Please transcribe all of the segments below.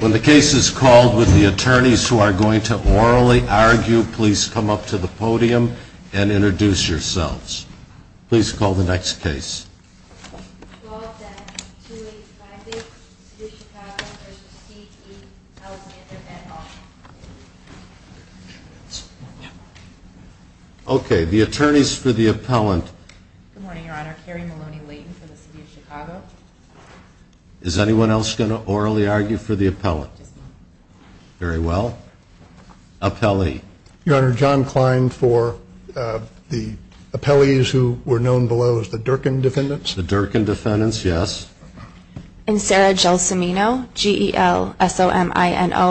When the case is called with the attorneys who are going to orally argue, please come up to the podium and introduce yourselves. Please call the next case. Okay, the attorneys for the appellant. Good morning, your honor. Carrie Maloney Layton for the city of Chicago. Is anyone else going to orally argue for the appellant? Very well. Appellee. Your honor, John Klein for the appellees who were known below as the Durkin defendants. The Durkin defendants, yes. And Sarah Gelsomino, G-E-L-S-O-M-I-N-O,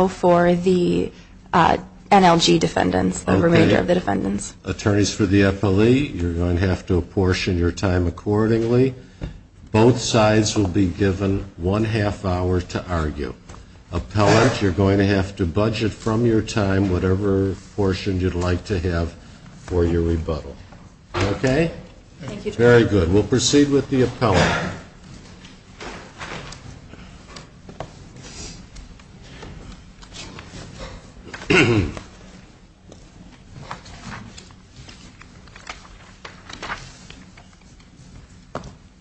for the NLG defendants, the remainder of the defendants. Attorneys for the appellee, you're going to have to apportion your time accordingly. Both sides will be given one half hour to argue. Appellant, you're going to have to budget from your time whatever portion you'd like to have for your rebuttal. Okay? Thank you. Very good. We'll proceed with the appellant. Good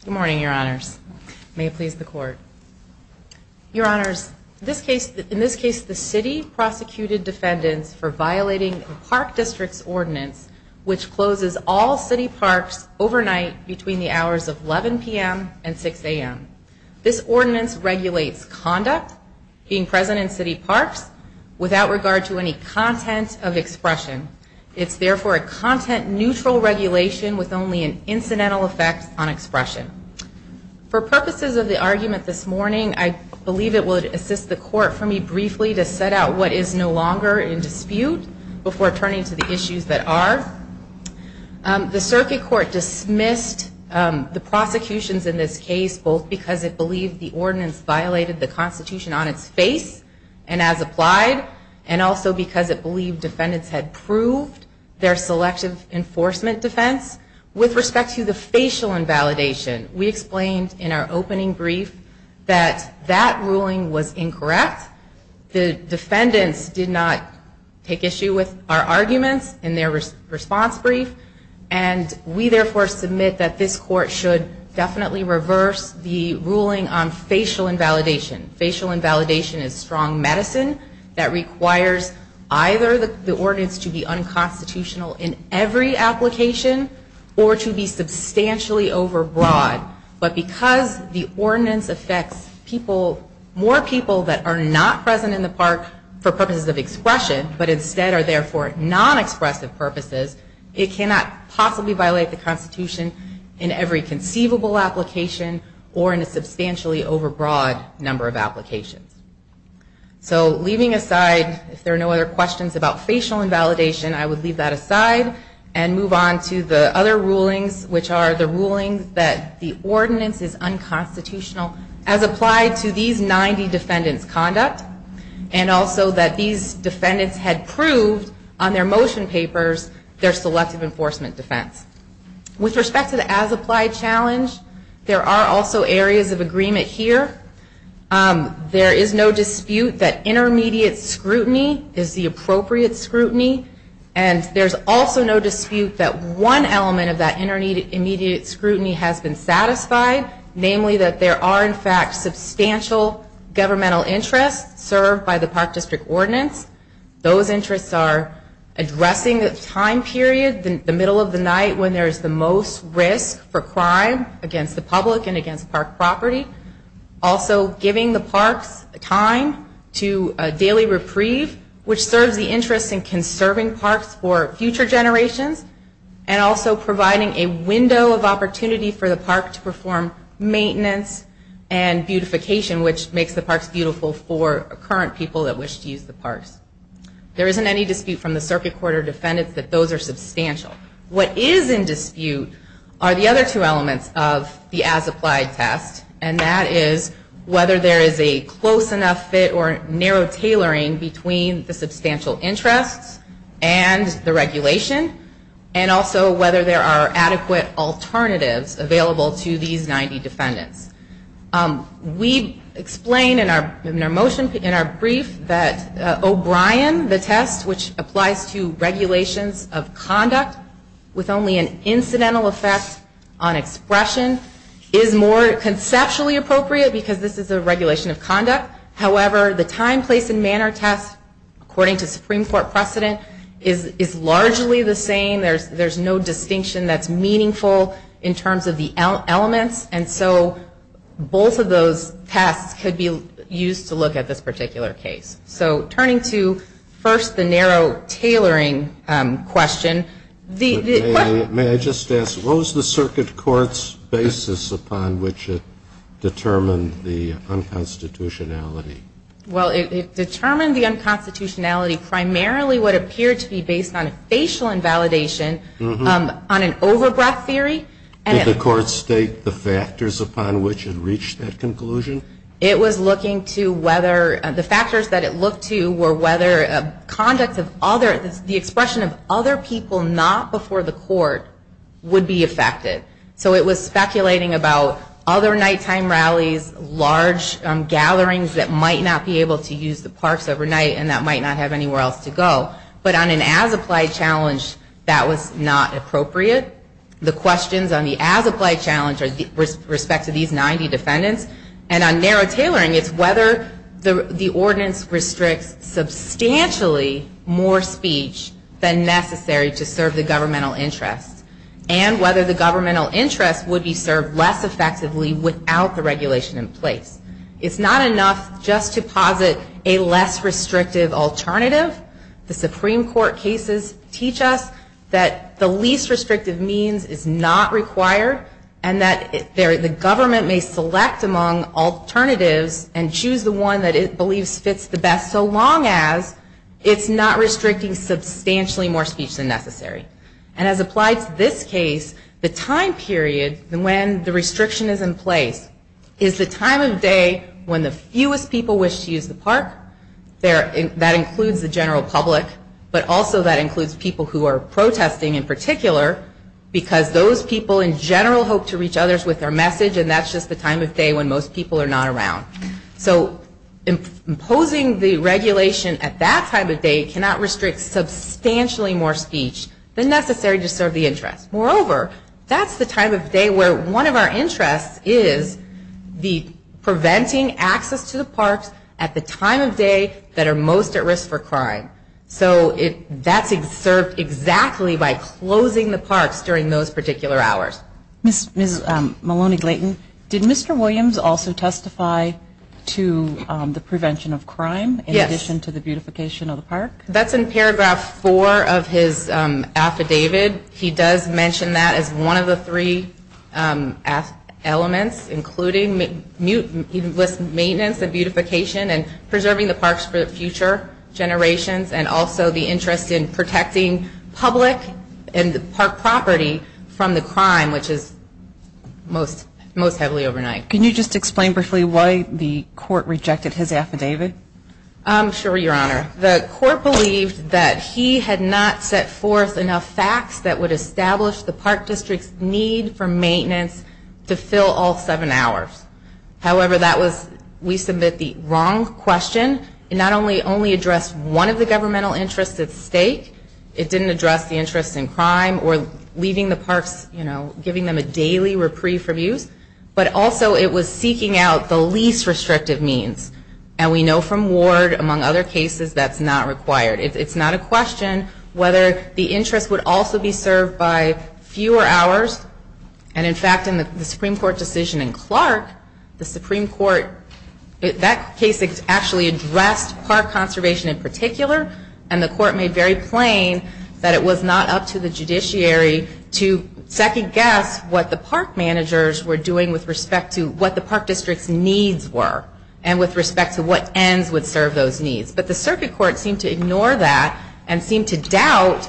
morning, your honors. May it please the court. Your honors, in this case the city prosecuted defendants for violating the park district's ordinance which closes all city parks overnight between the hours of 11 p.m. and 6 a.m. This ordinance regulates conduct being present in city parks without regard to any content of expression. It's therefore a content neutral regulation with only an incidental effect on expression. For purposes of the argument this morning, I believe it would assist the court for me briefly to set out what is no longer in dispute before turning to the issues that are. The circuit court dismissed the prosecutions in this case both because it believed the ordinance violated the constitution on its face and as applied and also because it believed defendants had proved their selective enforcement defense. With respect to the facial invalidation, we explained in our opening brief that that ruling was incorrect. The defendants did not take issue with our arguments in their response brief. We therefore submit that this court should definitely reverse the ruling on facial invalidation. Facial invalidation is strong medicine that requires either the ordinance to be unconstitutional in every application or to be substantially over broad. But because the ordinance affects more people that are not present in the park for purposes of expression, but instead are there for non-expressive purposes, it cannot possibly violate the constitution in every conceivable application or in a substantially over broad number of applications. So leaving aside, if there are no other questions about facial invalidation, I would leave that aside and move on to the other rulings, which are the ruling that the ordinance is unconstitutional as applied to these 90 defendants' conduct and also that these defendants had proved on their motion papers their selective enforcement defense. With respect to the as applied challenge, there are also areas of agreement here. There is no dispute that intermediate scrutiny is the appropriate scrutiny and there's also no dispute that one element of that intermediate scrutiny has been satisfied, namely that there are in fact substantial governmental interests served by the Park District Ordinance. Those interests are addressing the time period, the middle of the night when there is the most risk for crime against the public and against park property. Also giving the parks time to daily reprieve, which serves the interest in conserving parks for future generations, and also providing a window of opportunity for the park to perform maintenance and beautification, which makes the parks beautiful for current people that wish to use the parks. There isn't any dispute from the circuit court or defendants that those are substantial. What is in dispute are the other two elements of the as applied test, and that is whether there is a close enough fit or narrow tailoring between the substantial interests and the regulation, and also whether there are adequate alternatives available to these 90 defendants. We explain in our motion, in our brief, that O'Brien, the test, which applies to regulations of conduct with only an incidental effect on expression, is more conceptually appropriate because this is a regulation of conduct. However, the time, place, and manner test, according to Supreme Court precedent, is largely the same. There's no distinction that's meaningful in terms of the elements. And so both of those tests could be used to look at this particular case. So turning to, first, the narrow tailoring question. May I just ask, what was the circuit court's basis upon which it determined the unconstitutionality? Well, it determined the unconstitutionality primarily what appeared to be based on a facial invalidation on an over-breath theory. Did the court state the factors upon which it reached that conclusion? It was looking to whether the factors that it looked to were whether conduct of other, the expression of other people not before the court would be affected. So it was speculating about other nighttime rallies, large gatherings that might not be able to use the parks overnight, and that might not have anywhere else to go. But on an as-applied challenge, that was not appropriate. The questions on the as-applied challenge are with respect to these 90 defendants. And on narrow tailoring, it's whether the ordinance restricts substantially more speech than necessary to serve the governmental interest would be served less effectively without the regulation in place. It's not enough just to posit a less restrictive alternative. The Supreme Court cases teach us that the least restrictive means is not required and that the government may select among alternatives and choose the one that it believes fits the best so long as it's not restricting substantially more speech than necessary. And as applied to this case, the time period when the restriction is in place is the time of day when the fewest people wish to use the park. That includes the general public, but also that includes people who are protesting in particular because those people in general hope to reach others with their message and that's just the time of day when most people are not around. So imposing the regulation at that time of day cannot restrict substantially more speech than necessary to serve the interest. Moreover, that's the time of day where one of our interests is the preventing access to the parks at the time of day that are most at risk for crime. So that's served exactly by closing the parks during those particular hours. Ms. Maloney-Glayton, did Mr. Williams also testify to the prevention of crime in addition to the beautification of the park? Yes. That's in paragraph four of his affidavit. He does mention that as one of the three elements, including maintenance and beautification and preserving the parks for future generations and also the interest in protecting public and park property from the crime, which is most heavily overnight. Can you just explain briefly why the court rejected his affidavit? I'm sure, Your Honor. The court believed that he had not set forth enough facts that would establish the park district's need for maintenance to fill all seven hours. However, that was, we submit the wrong question. It not only addressed one of the governmental interests at stake. It didn't address the interest in crime or leaving the parks, you know, giving them a daily reprieve from use. But also it was seeking out the least restrictive means. And we know from Ward, among other cases, that's not required. It's not a question whether the interest would also be served by fewer hours. And in fact, in the Supreme Court decision in Clark, the Supreme Court, that case actually addressed park conservation in particular. And the court made very plain that it was not up to the judiciary to second guess what the park managers were doing with respect to what the park district's needs were and with respect to what ends would serve those needs. But the circuit court seemed to ignore that and seemed to doubt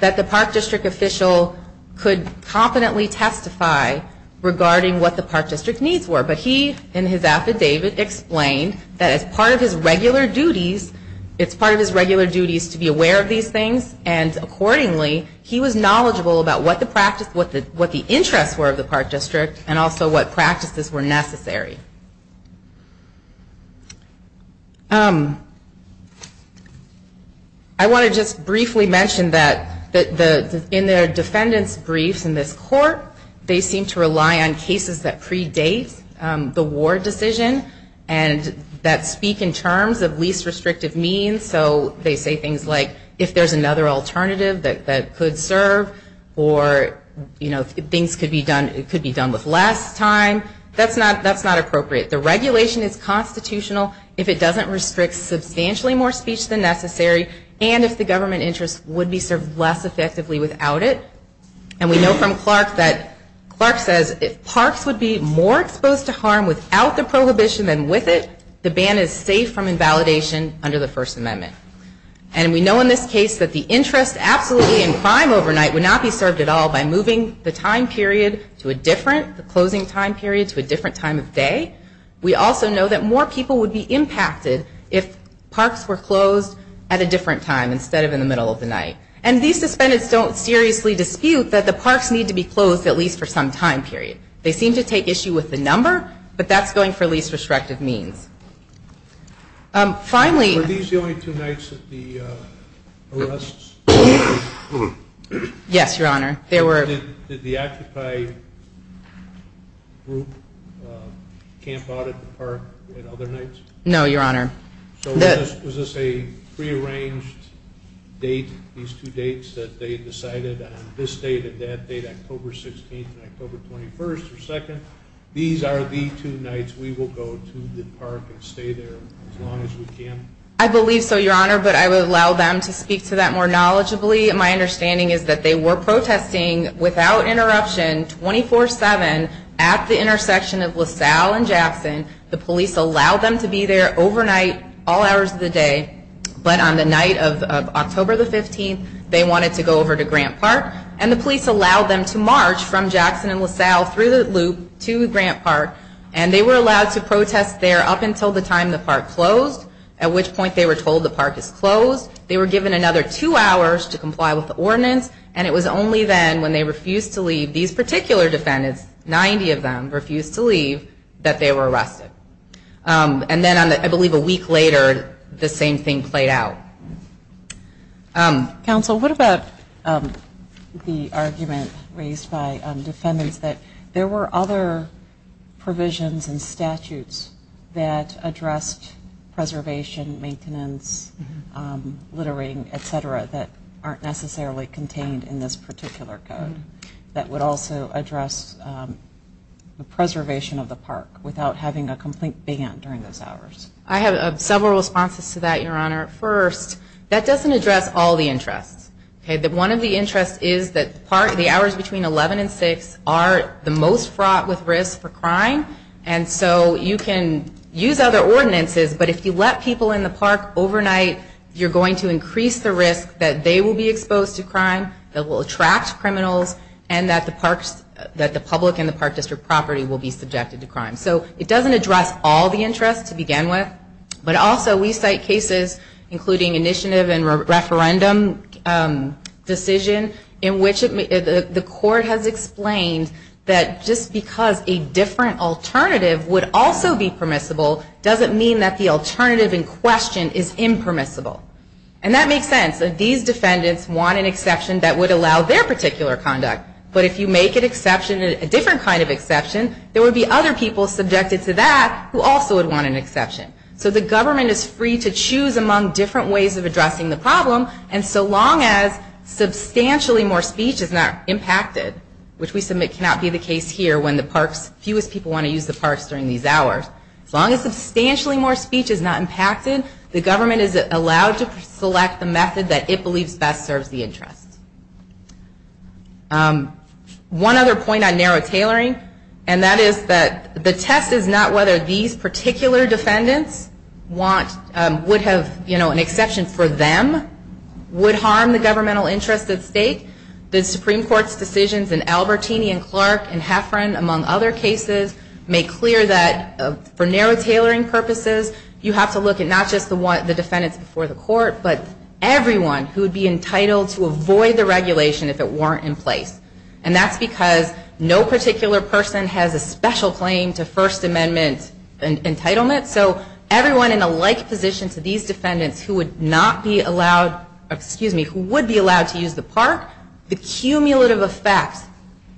that the park district official could competently testify regarding what the park district needs were. But he, in his affidavit, explained that as part of his regular duties, it's part of his regular duties to be aware of these things. And accordingly, he was knowledgeable about what the interest were of the park district and also what practices were necessary. I want to just briefly mention that in their defendant's briefs in this court, they seem to rely on cases that predate the Ward decision and that speak in terms of least restrictive means. So they say things like, if there's another alternative that could serve or, you know, things could be done with less time, that's not appropriate. The regulation is constitutional if it doesn't restrict substantially more speech than necessary and if the government interest would be served less effectively without it. And we know from Clark that, Clark says, if parks would be more exposed to harm without the prohibition than with it, the ban is safe from invalidation under the First Amendment. And we know in this case that the interest absolutely in crime overnight would not be served at all by moving the time period to a different, the time period would not be served. We also know that more people would be impacted if parks were closed at a different time instead of in the middle of the night. And these suspended don't seriously dispute that the parks need to be closed at least for some time period. They seem to take issue with the number, but that's going for least restrictive means. Finally... Were these the only two nights that the arrests... Yes, Your Honor. There were... Did the Occupy group camp out at the park at other nights? No, Your Honor. So was this a prearranged date, these two dates, that they decided on this date and that date, October 16th and October 21st or 2nd? These are the two nights we will go to the park and stay there as long as we can? I believe so, Your Honor, but I would allow them to speak to that more knowledgeably. My understanding is that they were protesting without interruption, 24-7, at the intersection of LaSalle and Jackson. The police allowed them to be there overnight, all hours of the day. But on the night of October 15th, they wanted to go over to Grant Park. And the police allowed them to march from Jackson and LaSalle through the loop to Grant Park. And they were allowed to protest there up until the time the park closed, at which point they were told the park is closed. They were given another two hours to comply with the ordinance. And it was only then, when they refused to leave, these particular defendants, 90 of them refused to leave, that they were arrested. And then, I believe a week later, the same thing played out. Counsel, what about the argument raised by defendants that there were other provisions and statutes that addressed preservation, maintenance, littering, et cetera, that aren't necessarily contained in this particular code? That would also address the preservation of the park without having a complete ban during those hours? I have several responses to that, Your Honor. First, that doesn't address all the interests. One of the interests is that the hours between 11 and 6 are the most fraught with risk for crime. And so you can use other ordinances, but if you let people in the park overnight, you're going to increase the risk that they will be exposed to crime, that will attract criminals, and that the parks, that the public and the park district property will be subjected to crime. So it doesn't address all the interests to begin with, but also we cite cases, including initiative and referendum decision, in which the court has explained that just because a different alternative would also be permissible, doesn't mean that the alternative in question is impermissible. And that makes sense. These defendants want an exception that would allow their particular conduct. But if you make an exception, a different kind of exception, there would be other people subjected to that who also would want an exception. So the government is free to choose among different ways of addressing the problem. And so long as substantially more speech is not impacted, which we submit cannot be the case here when the parks, fewest people want to use the parks during these hours, as long as substantially more speech is not impacted, the government is allowed to select the method that it believes best serves the interest. One other point on narrow tailoring, and that is that the test is not whether these particular defendants want, would have, you know, an exception for them. Would harm the governmental interest at stake, the Supreme Court's decisions in Albertini and Clark and Heffron, among other cases, make clear that for narrow tailoring purposes, you have to look at not just the defendants before the court, but everyone who would be entitled to avoid the regulation if it weren't in place. And that's because no particular person has a special claim to First Amendment entitlement. So everyone in a like position to these defendants who would not be allowed, excuse me, who would be allowed to use the park, the cumulative effect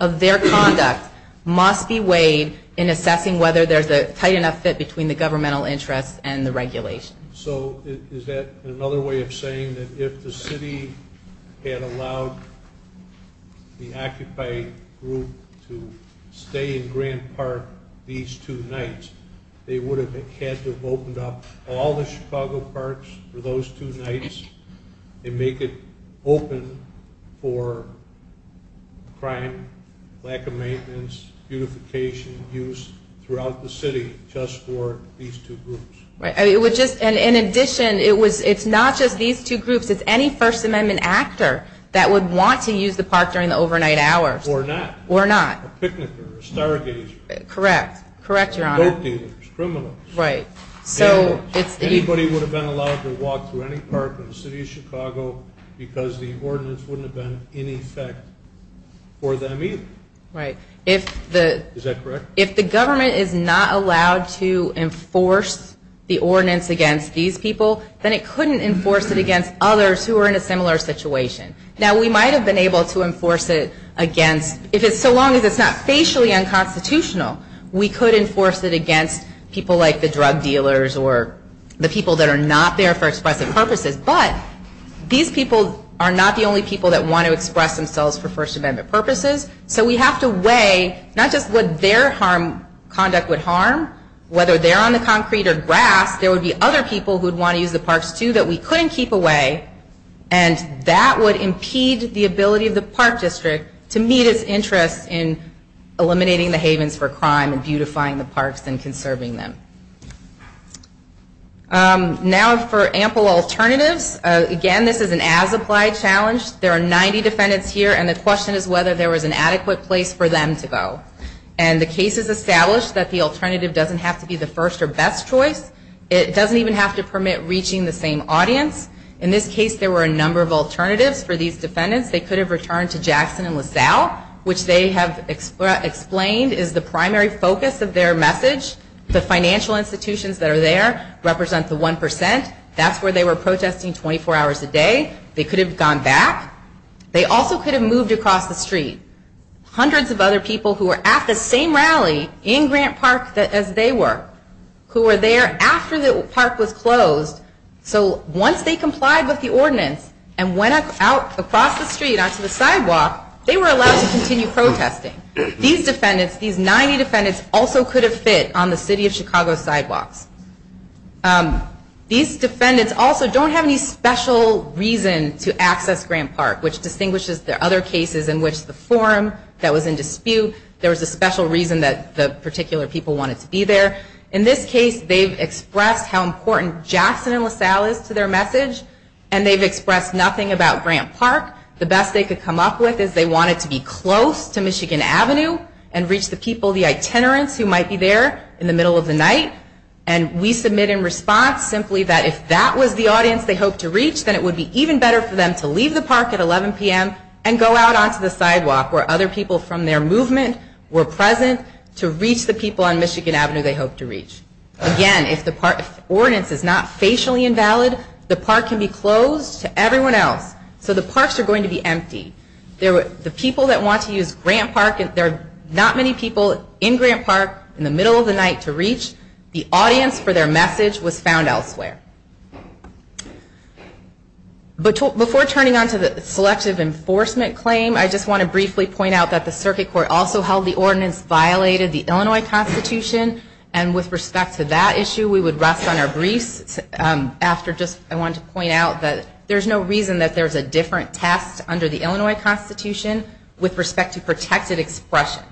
of their conduct must be weighed in assessing whether there's a tight enough fit between the governmental interest and the regulation. So is that another way of saying that if the city had allowed the Occupy group to stay in Grand Park these two nights, they would have been able to use the park? No, they would have had to have opened up all the Chicago parks for those two nights and make it open for crime, lack of maintenance, beautification, use throughout the city just for these two groups. Right, and in addition, it's not just these two groups, it's any First Amendment actor that would want to use the park during the overnight hours. Or not. Or not. Correct, correct, Your Honor. Boat dealers, criminals. Right. Anybody would have been allowed to walk through any park in the city of Chicago because the ordinance wouldn't have been in effect for them either. Right. Is that correct? If the government is not allowed to enforce the ordinance against these people, then it couldn't enforce it against others who are in a similar situation. Now, we might have been able to enforce it against, if it's so long as it's not facially unconstitutional. We could enforce it against people like the drug dealers or the people that are not there for expressive purposes, but these people are not the only people that want to express themselves for First Amendment purposes, so we have to weigh not just what their harm, conduct would harm, whether they're on the concrete or grass, there would be other people who would want to use the parks too that we couldn't keep away, and that would impede the ability of the park district to meet its interest in eliminating the havens for crime. And beautifying the parks and conserving them. Now, for ample alternatives, again, this is an as-applied challenge. There are 90 defendants here, and the question is whether there was an adequate place for them to go. And the case is established that the alternative doesn't have to be the first or best choice. It doesn't even have to permit reaching the same audience. In this case, there were a number of alternatives for these defendants. They could have returned to Jackson and LaSalle, which they have explained is the primary focus of their message. The financial institutions that are there represent the 1%. That's where they were protesting 24 hours a day. They could have gone back. They also could have moved across the street. Hundreds of other people who were at the same rally in Grant Park as they were, who were there after the park was closed. So once they complied with the ordinance and went out across the street, they could have gone back. They could have moved across the street onto the sidewalk. They were allowed to continue protesting. These defendants, these 90 defendants, also could have fit on the city of Chicago's sidewalks. These defendants also don't have any special reason to access Grant Park, which distinguishes the other cases in which the forum that was in dispute, there was a special reason that the particular people wanted to be there. In this case, they've expressed how important Jackson and LaSalle is to their message, and they've expressed nothing about Grant Park. The best they could come up with is they wanted to be close to Michigan Avenue and reach the people, the itinerants who might be there in the middle of the night. And we submit in response simply that if that was the audience they hoped to reach, then it would be even better for them to leave the park at 11 p.m. and go out onto the sidewalk where other people from their movement were present to reach the people on Michigan Avenue they hoped to reach. Again, if the ordinance is not facially invalid, the park can be closed to everyone else. So the parks are going to be empty. The people that want to use Grant Park, there are not many people in Grant Park in the middle of the night to reach. The audience for their message was found elsewhere. Before turning on to the selective enforcement claim, I just want to briefly point out that the Circuit Court also held the ordinance violated the Illinois Constitution. And with respect to that issue, we would rest on our briefs. I wanted to point out that there is no reason that there is a different test under the Illinois Constitution with respect to protected expression.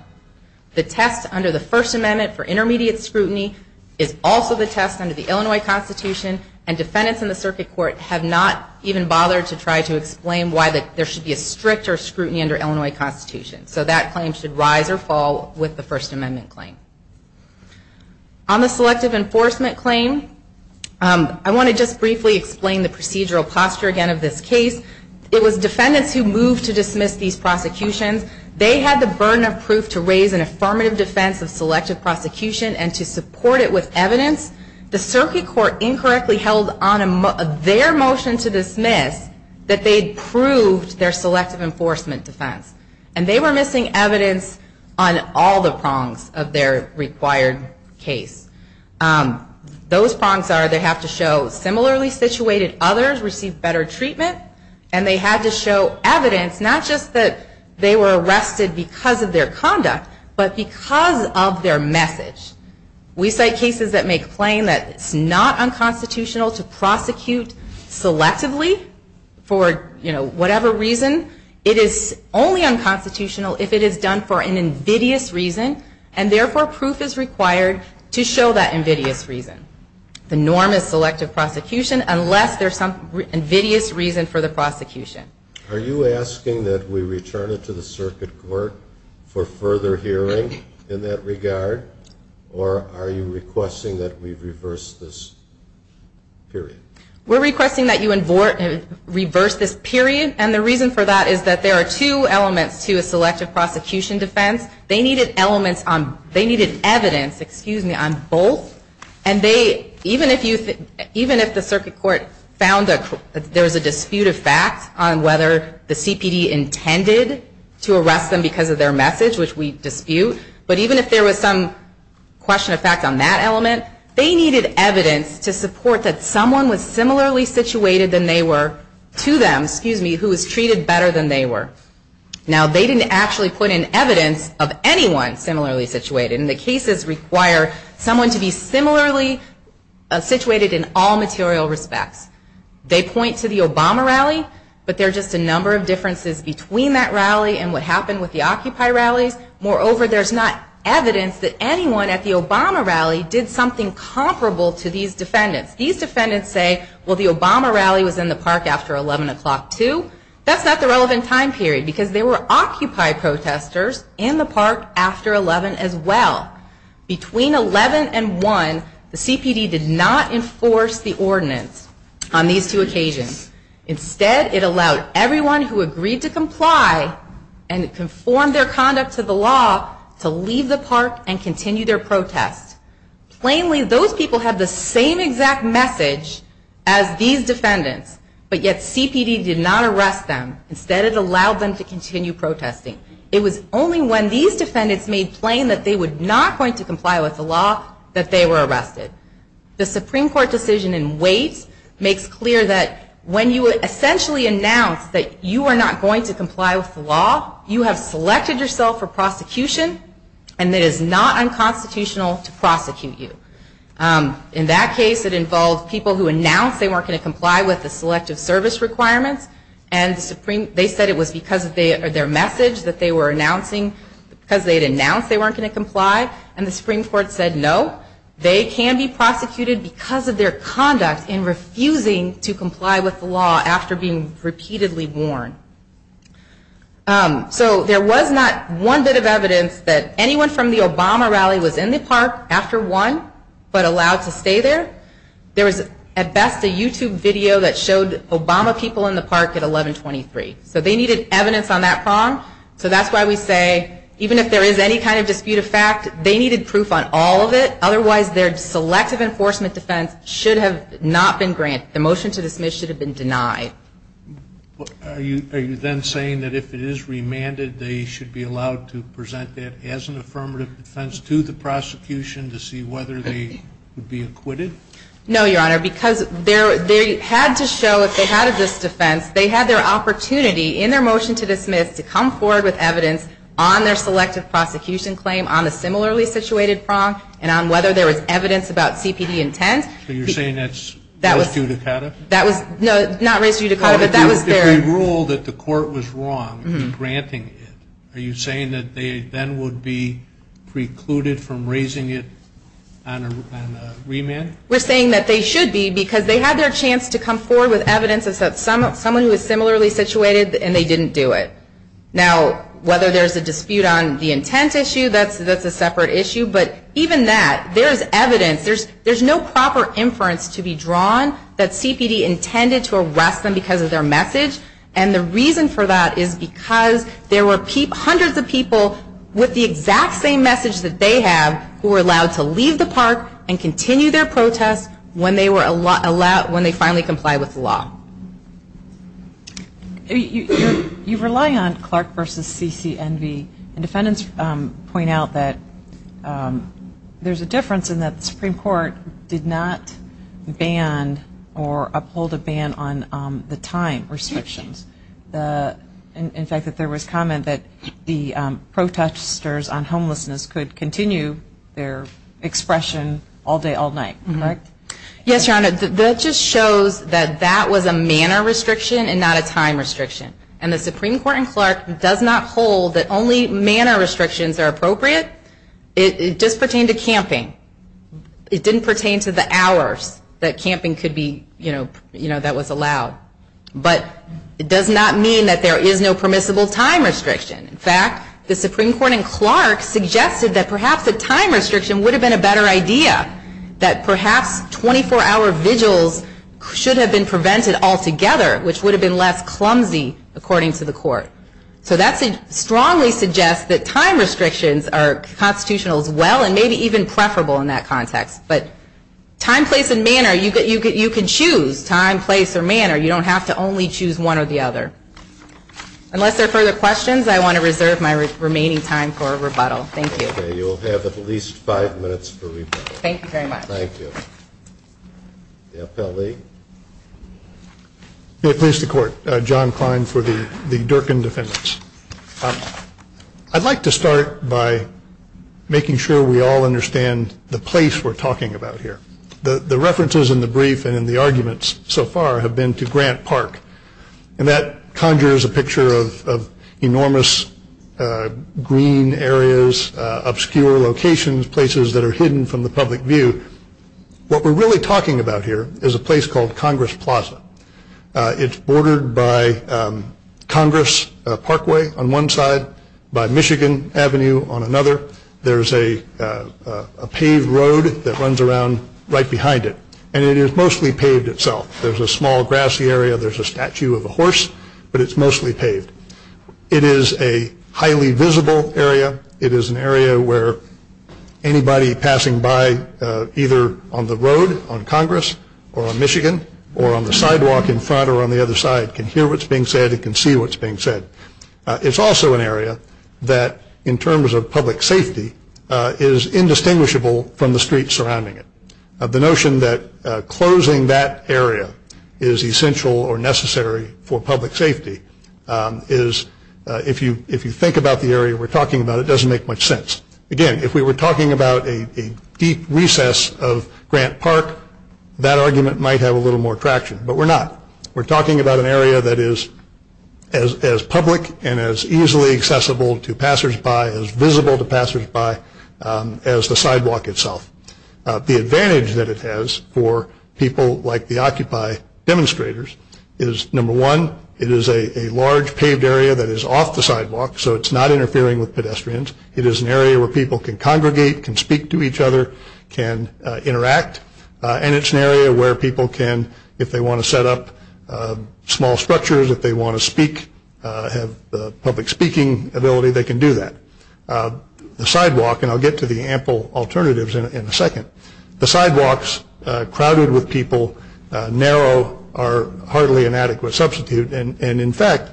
The test under the First Amendment for intermediate scrutiny is also the test under the Illinois Constitution and defendants in the Circuit Court have not even bothered to try to explain why there should be a stricter scrutiny under Illinois Constitution. So that claim should rise or fall with the First Amendment claim. On the selective enforcement claim, I want to just briefly explain the procedural posture again of this case. It was defendants who moved to dismiss these prosecutions. They had the burden of proof to raise an affirmative defense of selective prosecution and to support it with evidence. The Circuit Court incorrectly held on their motion to dismiss that they had proved their selective enforcement defense. And they were missing evidence on all the prongs of their defense. And that is a required case. Those prongs are they have to show similarly situated others receive better treatment and they had to show evidence, not just that they were arrested because of their conduct, but because of their message. We cite cases that make claim that it's not unconstitutional to prosecute selectively for whatever reason. It is only unconstitutional if it is done for an invidious reason and therefore prohibited. Proof is required to show that invidious reason. The norm is selective prosecution unless there's some invidious reason for the prosecution. Are you asking that we return it to the Circuit Court for further hearing in that regard? Or are you requesting that we reverse this period? We're requesting that you reverse this period. And the reason for that is that there are two elements to a selective prosecution defense. They needed evidence on both. And even if the Circuit Court found that there was a dispute of fact on whether the CPD intended to arrest them because of their message, which we dispute, but even if there was some question of fact on that element, they needed evidence to support that someone was similarly situated to them who was treated better than they were. Now, they didn't actually put in evidence of anyone similarly situated. And the cases require someone to be similarly situated in all material respects. They point to the Obama rally, but there are just a number of differences between that rally and what happened with the Occupy rallies. Moreover, there's not evidence that anyone at the Obama rally did something comparable to these defendants. These defendants say, well, the Obama rally was in the park after 11 o'clock, too. That's not the relevant time period, because there were Occupy protesters in the park after 11 as well. Between 11 and 1, the CPD did not enforce the ordinance on these two occasions. Instead, it allowed everyone who agreed to comply and conformed their conduct to the law to leave the park and continue their protest. Plainly, those people have the same exact message as these defendants. But yet, CPD did not arrest them. Instead, it allowed them to continue protesting. It was only when these defendants made plain that they were not going to comply with the law that they were arrested. The Supreme Court decision in Wait makes clear that when you essentially announce that you are not going to comply with the law, you have selected yourself for prosecution, and it is not unconstitutional to prosecute you. In that case, it involved people who announced they weren't going to comply with the selection. They had already given their collective service requirements, and they said it was because of their message that they were announcing, because they had announced they weren't going to comply, and the Supreme Court said no. They can be prosecuted because of their conduct in refusing to comply with the law after being repeatedly warned. So there was not one bit of evidence that anyone from the Obama rally was in the park after 1 but allowed to stay there. There was at best a YouTube video that showed Obama people in the park at 1123. So they needed evidence on that prong, so that's why we say even if there is any kind of dispute of fact, they needed proof on all of it, otherwise their selective enforcement defense should have not been granted. The motion to dismiss should have been denied. Are you then saying that if it is remanded, they should be allowed to present that as an affirmative defense to the Supreme Court? No, Your Honor, because they had to show if they had this defense, they had their opportunity in their motion to dismiss to come forward with evidence on their selective prosecution claim on the similarly situated prong, and on whether there was evidence about CPD intent. So you're saying that's raised judicata? No, not raised judicata, but that was their... If we rule that the court was wrong in granting it, are you saying that they then would be precluded from raising it on a remand? No, we're saying that they should be, because they had their chance to come forward with evidence that someone who was similarly situated and they didn't do it. Now, whether there's a dispute on the intent issue, that's a separate issue, but even that, there's evidence, there's no proper inference to be drawn that CPD intended to arrest them because of their message, and the reason for that is because there were hundreds of people with the exact same message that they have who were allowed to leave the park and continue their protest when they finally complied with the law. You rely on Clark v. CCNV, and defendants point out that there's a difference in that the Supreme Court did not ban or uphold a ban on the time restrictions. In fact, there was comment that the protesters on homelessness could continue their expression all day, all night. Yes, Your Honor, that just shows that that was a manner restriction and not a time restriction. And the Supreme Court in Clark does not hold that only manner restrictions are appropriate. It does pertain to camping. It didn't pertain to the hours that camping could be, you know, that was allowed. But it does not mean that there is no permissible time restriction. In fact, the Supreme Court in Clark suggested that perhaps a time restriction would have been a better idea, that perhaps 24-hour vigils should have been prevented altogether, which would have been less clumsy, according to the Court. So that strongly suggests that time restrictions are constitutional as well, and maybe even preferable in that context. But time, place, and manner, you can choose time, place, or manner. You don't have to only choose one or the other. Unless there are further questions, I want to reserve my remaining time for rebuttal. Thank you. The appellee. May it please the Court. John Klein for the Durkin defendants. I'd like to start by making sure we all understand the place we're talking about here. The references in the brief and in the arguments so far have been to Grant Park. And that conjures a picture of enormous green areas, obscure locations, places that are hidden from the public view. What we're really talking about here is a place called Congress Plaza. It's bordered by Congress Parkway on one side, by Michigan Avenue on another. There's a paved road that runs around right behind it. And it is mostly paved itself. There's a small grassy area, there's a statue of a horse, but it's mostly paved. It is a highly visible area. It is an area where anybody passing by, either on the road or on the sidewalk, can see. Anybody on the road, on Congress, or on Michigan, or on the sidewalk in front or on the other side can hear what's being said and can see what's being said. It's also an area that, in terms of public safety, is indistinguishable from the streets surrounding it. The notion that closing that area is essential or necessary for public safety is, if you think about the area we're talking about, it doesn't make much sense. Again, if we were talking about a deep recess of Grant Park, that argument might have a little more traction, but we're not. We're talking about an area that is as public and as easily accessible to passersby, as visible to passersby, as the sidewalk itself. The advantage that it has for people like the Occupy demonstrators is, number one, it is a large paved area that is off the sidewalk, so it's not interfering with pedestrians. It is an area where people can congregate, can speak to each other, can interact. And it's an area where people can, if they want to set up small structures, if they want to speak, have public speaking ability, they can do that. The sidewalk, and I'll get to the ample alternatives in a second, the sidewalks crowded with people, narrow, are hardly an adequate substitute. And in fact,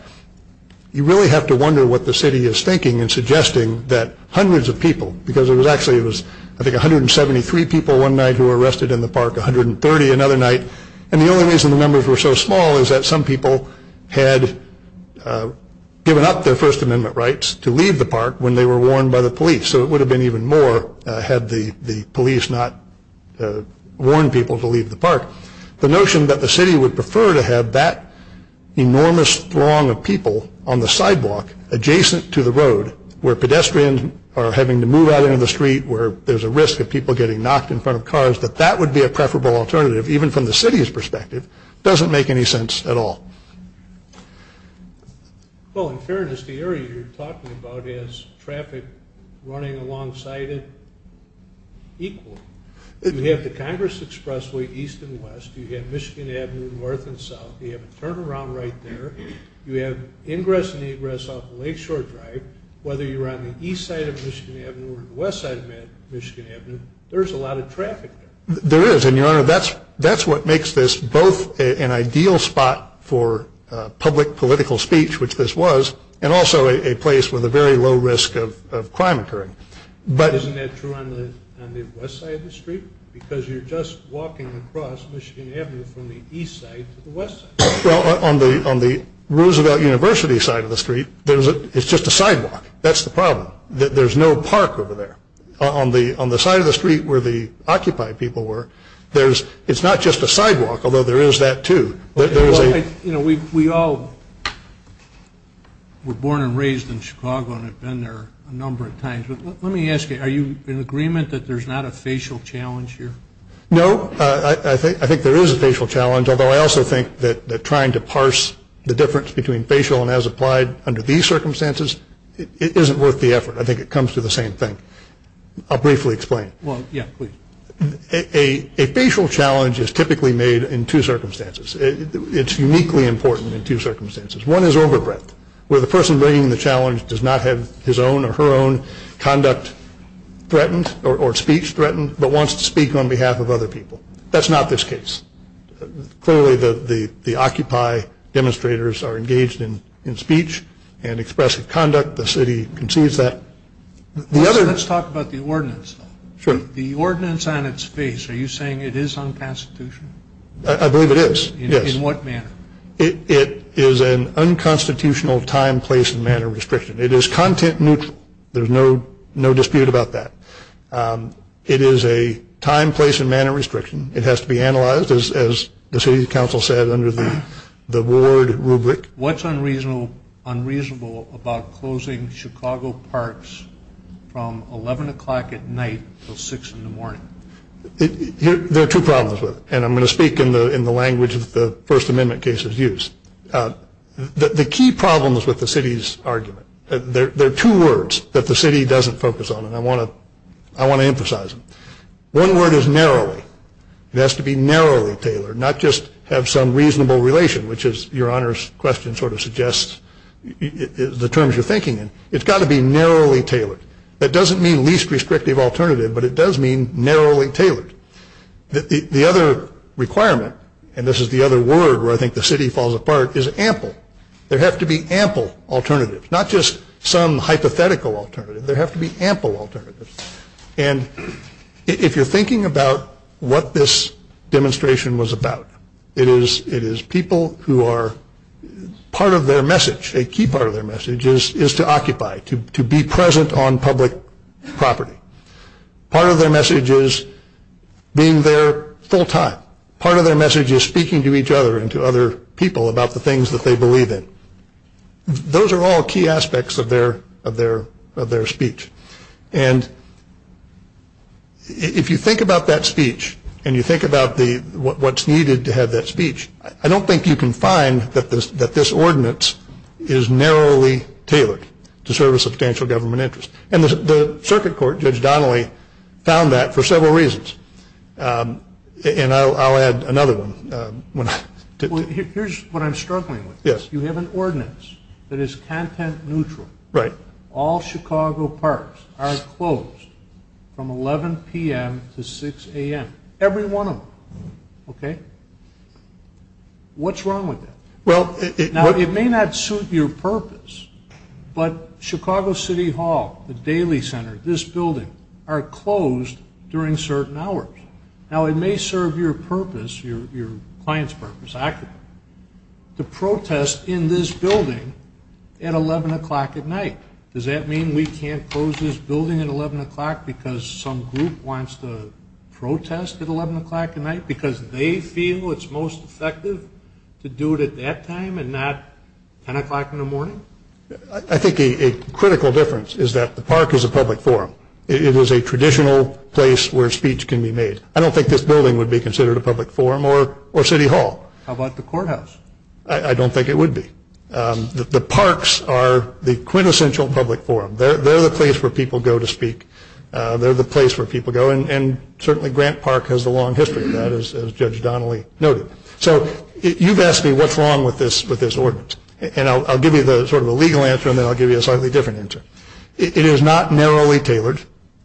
you really have to wonder what the city is thinking and suggesting that hundreds of people, because there was actually, I think, 173 people one night who were arrested in the park, 130 another night. And the only reason the numbers were so small is that some people had given up their First Amendment rights to leave the park when they were warned by the police. So it would have been even more had the police not warned people to leave the park. The notion that the city would prefer to have that enormous throng of people on the sidewalk adjacent to the road, where pedestrians are having to move out into the street, where there's a risk of people getting knocked in front of cars, that that would be a preferable alternative, even from the city's perspective, doesn't make any sense at all. Well, in fairness, the area you're talking about has traffic running alongside it equally. You have the Congress Expressway east and west, you have Michigan Avenue north and south, you have a turnaround right there, you have ingress and egress off of Lakeshore Drive, whether you're on the east side of Michigan Avenue or the west side of Michigan Avenue, there's a lot of traffic there. There is, and, Your Honor, that's what makes this both an ideal spot for public political speech, which this was, and also a place with a very low risk of crime occurring. Isn't that true on the west side of the street? Because you're just walking across Michigan Avenue from the east side to the west side. Well, on the Roosevelt University side of the street, it's just a sidewalk. That's the problem. There's no park over there. On the side of the street where the Occupy people were, it's not just a sidewalk, although there is that, too. You know, we all were born and raised in Chicago and have been there a number of times. Let me ask you, are you in agreement that there's not a facial challenge here? No. I think there is a facial challenge, although I also think that trying to parse the difference between facial and as applied under these circumstances, it isn't worth the effort. I think it comes to the same thing. I'll briefly explain. Well, yeah, please. A facial challenge is typically made in two circumstances. It's uniquely important in two circumstances. One is over breadth, where the person bringing the challenge does not have his own or her own conduct threatened or speech threatened, but wants to speak on behalf of other people. That's not this case. Clearly, the Occupy demonstrators are engaged in speech and expressive conduct. The city concedes that. Let's talk about the ordinance. Sure. The ordinance on its face, are you saying it is unconstitutional? I believe it is, yes. In what manner? It is an unconstitutional time, place, and manner restriction. It is content neutral. There's no dispute about that. It is a time, place, and manner restriction. It has to be analyzed, as the city council said under the ward rubric. What's unreasonable about closing Chicago parks from 11 o'clock at night until 6 in the morning? There are two problems with it, and I'm going to speak in the language of the First Amendment case. The key problem is with the city's argument. There are two words that the city doesn't focus on, and I want to emphasize them. One word is narrowly. It has to be narrowly tailored, not just have some reasonable relation, which is your Honor's question sort of suggests the terms you're thinking in. It's got to be narrowly tailored. That doesn't mean least restrictive alternative, but it does mean narrowly tailored. The other requirement, and this is the other word where I think the city falls apart, is ample. There have to be ample alternatives, not just some hypothetical alternative. There have to be ample alternatives. And if you're thinking about what this demonstration was about, it is people who are part of their message. A key part of their message is to occupy, to be present on public property. Part of their message is being there full time. Part of their message is speaking to each other and to other people about the things that they believe in. Those are all key aspects of their speech. And if you think about that speech, and you think about what's needed to have that speech, I don't think you can find that this ordinance is narrowly tailored to serve a substantial government interest. And the circuit court, Judge Donnelly, found that for several reasons. And I'll add another one. Here's what I'm struggling with. You have an ordinance that is content neutral. All Chicago parks are closed from 11 p.m. to 6 a.m. Every one of them. What's wrong with that? Now, it may not suit your purpose, but Chicago City Hall, the Daily Center, this building, are closed during certain hours. Now, it may serve your purpose, your client's purpose, accurately, to protest in this building at 11 o'clock at night. Does that mean we can't close this building at 11 o'clock because some group wants to protest at 11 o'clock at night? Because they feel it's most effective to do it at that time? And not 10 o'clock in the morning? I think a critical difference is that the park is a public forum. It is a traditional place where speech can be made. I don't think this building would be considered a public forum or City Hall. How about the courthouse? I don't think it would be. The parks are the quintessential public forum. They're the place where people go to speak. They're the place where people go. And certainly Grant Park has a long history of that, as Judge Donnelly noted. So you've asked me what's wrong with this ordinance. And I'll give you sort of a legal answer, and then I'll give you a slightly different answer. It is not narrowly tailored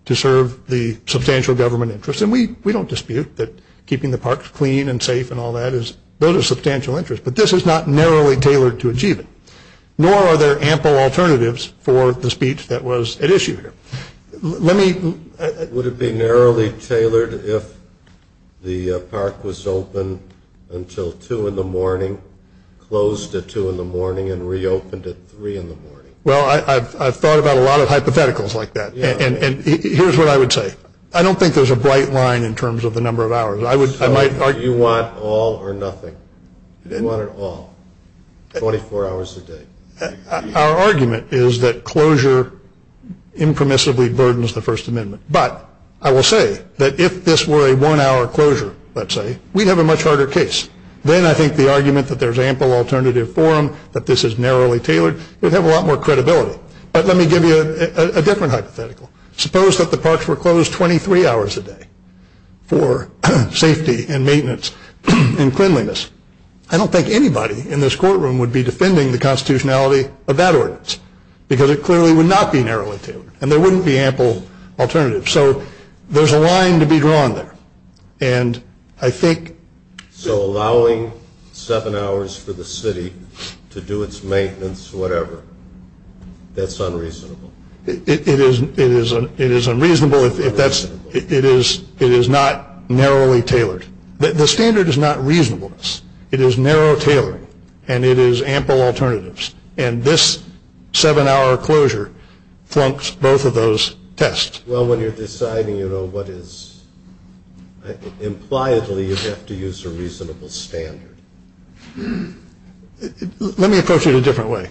to serve the substantial government interest. And we don't dispute that keeping the parks clean and safe and all that, those are substantial interests. But this is not narrowly tailored to achieve it. Nor are there ample alternatives for the speech that was at issue here. Would it be narrowly tailored if the park was open until 2 in the morning, closed at 2 in the morning, and reopened at 3 in the morning? Well, I've thought about a lot of hypotheticals like that. And here's what I would say. I don't think there's a bright line in terms of the number of hours. So you want all or nothing? You want it all, 24 hours a day? Our argument is that closure impermissibly burdens the First Amendment. But I will say that if this were a one-hour closure, let's say, we'd have a much harder case. Then I think the argument that there's ample alternative for them, that this is narrowly tailored, would have a lot more credibility. But let me give you a different hypothetical. Suppose that the parks were closed 23 hours a day for safety and maintenance and cleanliness. I don't think anybody in this courtroom would be defending the constitutionality of that ordinance. Because it clearly would not be narrowly tailored. And there wouldn't be ample alternatives. So there's a line to be drawn there. So allowing 7 hours for the city to do its maintenance, whatever, that's unreasonable? It is unreasonable if it is not narrowly tailored. The standard is not reasonableness. It is narrow tailoring. And it is ample alternatives. And this 7-hour closure flunks both of those tests. Well, when you're deciding, you know, what is... Impliedly, you have to use a reasonable standard. Let me approach it a different way.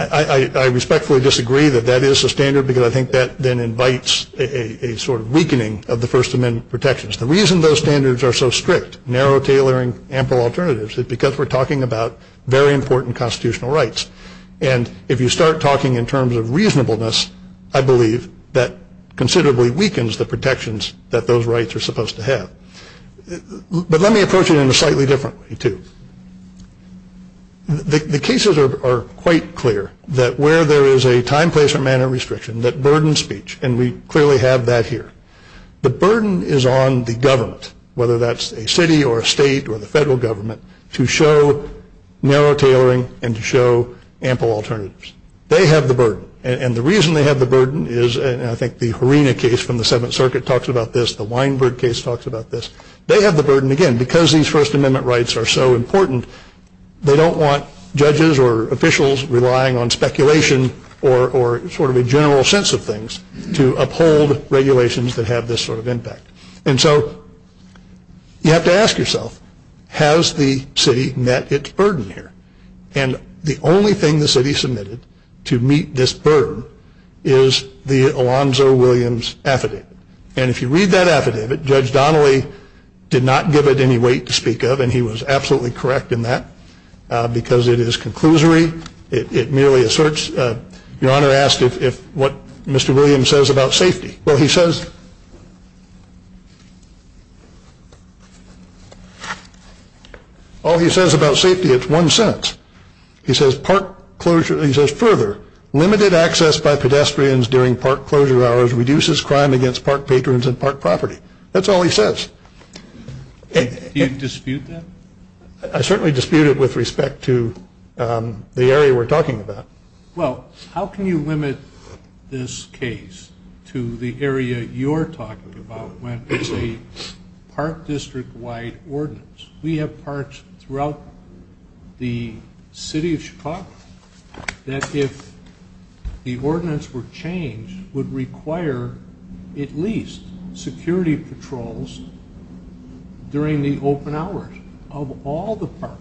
I respectfully disagree that that is a standard, because I think that then invites a sort of weakening of the First Amendment protections. The reason those standards are so strict, narrow tailoring, ample alternatives, is because we're talking about very important constitutional rights. And if you start talking in terms of reasonableness, I believe that considerably weakens the protections that those rights are supposed to have. But let me approach it in a slightly different way, too. The cases are quite clear that where there is a time, place, or manner restriction that burdens speech, and we clearly have that here. The burden is on the government, whether that's a city or a state or the federal government, to show narrow tailoring and to show ample alternatives. They have the burden. And the reason they have the burden is, and I think the Harina case from the Seventh Circuit talks about this, the Weinberg case talks about this, they have the burden, again, because these First Amendment rights are so important, they don't want judges or officials relying on speculation or sort of a general sense of things to uphold regulations that have this sort of impact. And so you have to ask yourself, has the city met its burden here? And the only thing the city submitted to meet this burden is the Alonzo Williams affidavit. And if you read that affidavit, Judge Donnelly did not give it any weight to speak of, and he was absolutely correct in that, because it is conclusory, it merely asserts, Your Honor asked what Mr. Williams says about safety. Well, he says, all he says about safety, it's one sentence. He says, further, limited access by pedestrians during park closure hours reduces crime against park patrons and park property. That's all he says. Do you dispute that? I certainly dispute it with respect to the area we're talking about. Well, how can you limit this case to the area you're talking about when it's a park district-wide ordinance? We have parks throughout the city of Chicago that if the ordinance were changed would require at least security patrols during the open hours of all the parks.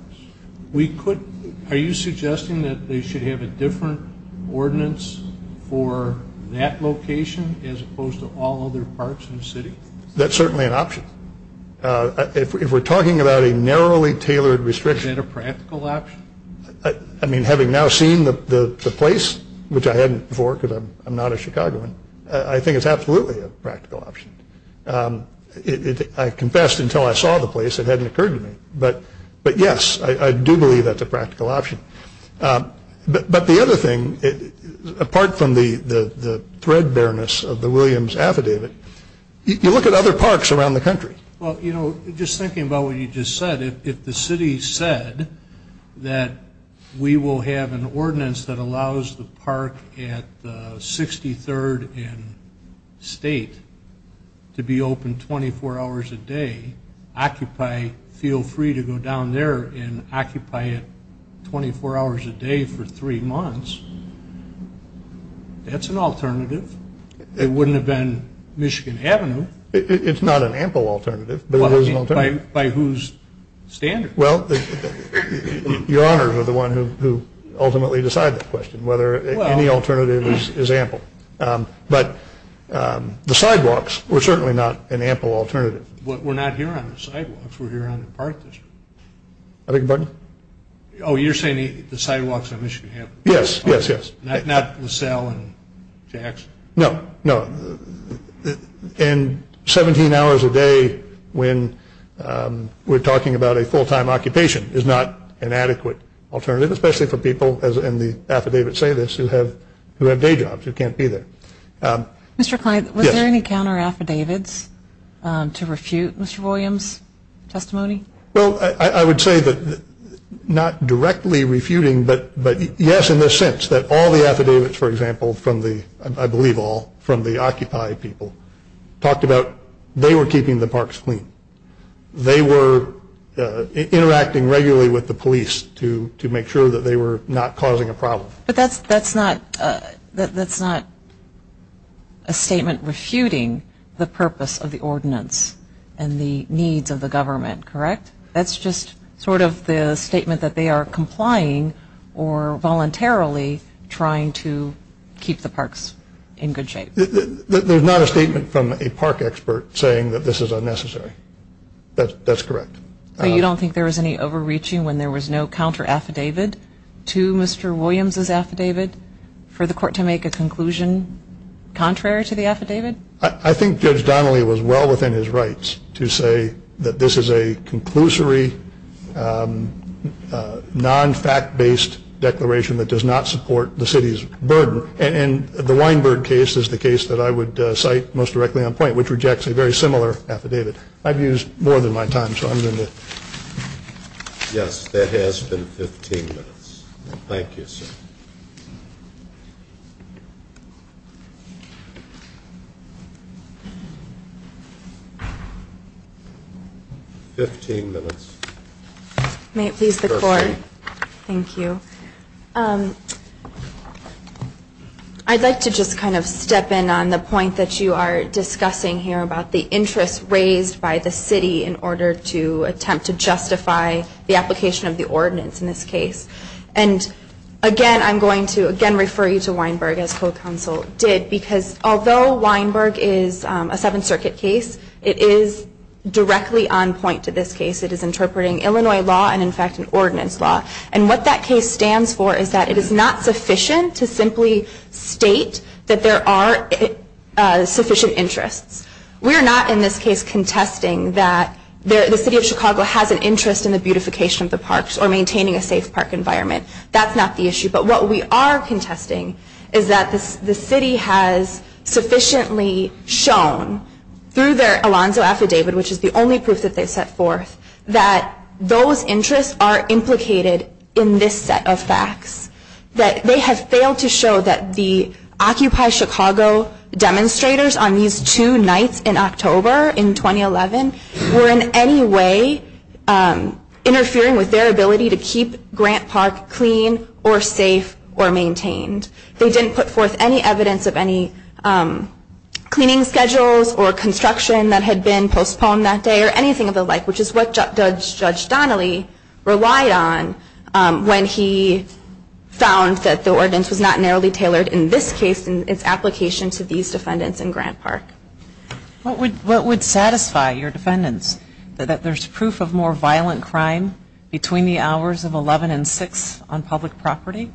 Are you suggesting that they should have a different ordinance for that location as opposed to all other parks in the city? That's certainly an option. If we're talking about a narrowly tailored restriction... Is that a practical option? I mean, having now seen the place, which I hadn't before because I'm not a Chicagoan, I think it's absolutely a practical option. I confessed until I saw the place it hadn't occurred to me. But yes, I do believe that's a practical option. But the other thing, apart from the threadbareness of the Williams Affidavit, you look at other parks around the country. Well, you know, just thinking about what you just said, if the city said that we will have an ordinance that allows the park at 63rd and State to be open 24 hours a day, occupy, feel free to go down there and occupy it 24 hours a day for three months, that's an alternative. It wouldn't have been Michigan Avenue. It's not an ample alternative, but it is an alternative. By whose standards? Your Honors are the ones who ultimately decide that question, whether any alternative is ample. But the sidewalks were certainly not an ample alternative. We're not here on the sidewalks, we're here on the park district. Oh, you're saying the sidewalks on Michigan Avenue? Yes, yes, yes. Not LaSalle and Jax? No, no. And 17 hours a day when we're talking about a full-time occupation is not an adequate alternative, especially for people, and the affidavits say this, who have day jobs, who can't be there. Mr. Kline, was there any counter-affidavits to refute Mr. Williams' testimony? Well, I would say that not directly refuting, but yes in the sense that all the affidavits, for example, I believe all, from the Occupy people talked about they were keeping the parks clean. They were interacting regularly with the police to make sure that they were not causing a problem. But that's not a statement refuting the purpose of the ordinance and the needs of the government, correct? That's just sort of the statement that they are complying or voluntarily trying to keep the parks in good shape. There's not a statement from a park expert saying that this is unnecessary, that's correct. So you don't think there was any overreaching when there was no counter-affidavit to Mr. Williams' affidavit for the court to make a conclusion contrary to the affidavit? I think Judge Donnelly was well within his rights to say that this is a conclusory non-fact-based declaration that does not support the city's burden. And the Weinberg case is the case that I would cite most directly on point, which rejects a very similar affidavit. I've used more than my time, so I'm going to... Yes, there has been 15 minutes. Thank you, sir. 15 minutes. May it please the court. Thank you. I'd like to just kind of step in on the point that you are discussing here about the interest raised by the city in order to attempt to justify the application of the ordinance in this case. And again, I'm going to again refer you to Weinberg as co-counsel did, because although Weinberg is a Seventh Circuit case, it is directly on point to this case. It is interpreting Illinois law and in fact an ordinance law. And what that case stands for is that it is not sufficient to simply state that there are sufficient interests. We are not in this case contesting that the city of Chicago has an interest in the beautification of the parks or maintaining a safe park environment. That's not the issue, but what we are contesting is that the city has sufficiently shown through their Alonzo Affidavit, which is the only proof that they've set forth, that those interests are implicated in this set of facts. That they have failed to show that the Occupy Chicago demonstrators on these two nights in October in 2011 were in any way interfering with their ability to keep Grant Park clean or safe or maintained. They didn't put forth any evidence of any cleaning schedules or construction that had been postponed that day or anything of the like, which is what Judge Donnelly relied on when he found that the ordinance was not narrowly tailored in this case and its application to these defendants in Grant Park. What would satisfy your defendants that there's proof of more violent crime between the hours of 11 and 6 on public property?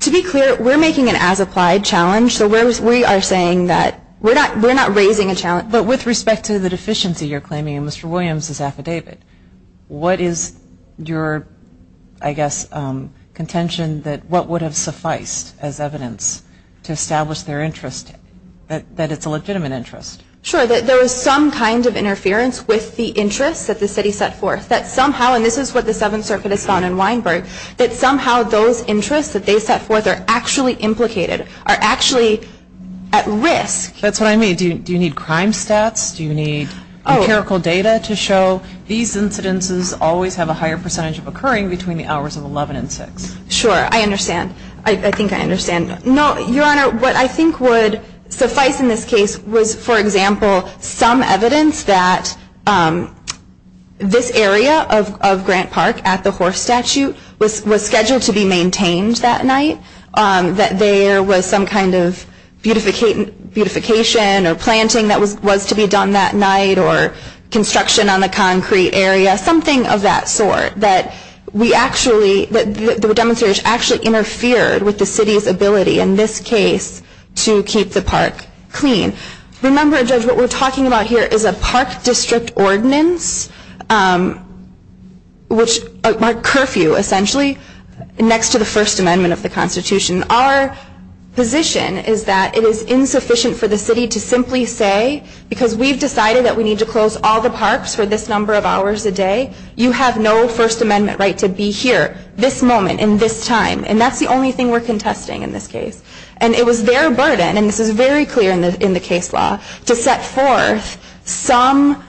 To be clear, we're making an as-applied challenge so we are saying that we're not raising a challenge but with respect to the deficiency you're claiming in Mr. Williams' affidavit. What is your, I guess, contention that what would have sufficed as evidence to establish their interest, that it's a legitimate interest? Sure, that there is some kind of interference with the interests that the city set forth. That somehow, and this is what the Seventh Circuit has found in Weinberg, that somehow those interests that they set forth are actually implicated are actually at risk. That's what I mean. Do you need crime stats? Do you need empirical data to show these incidences always have a higher percentage of occurring between the hours of 11 and 6? Sure, I understand. I think I understand. No, Your Honor, what I think would suffice in this case was, for example, some evidence that this area of Grant Park at the horse statue was scheduled to be maintained that night. That there was some kind of beautification or planting that was to be done that night or construction on the concrete area. Something of that sort. That the demonstrators actually interfered with the city's ability, in this case, to keep the park clean. Remember, Judge, what we're talking about here is a Park District Ordinance a curfew, essentially, next to the First Amendment of the Constitution. Our position is that it is insufficient for the city to simply say, because we've decided that we need to close all the parks for this number of hours a day, you have no First Amendment right to be here, this moment, in this time. And that's the only thing we're contesting in this case. And it was their burden, and this is very clear in the case law, to set forth some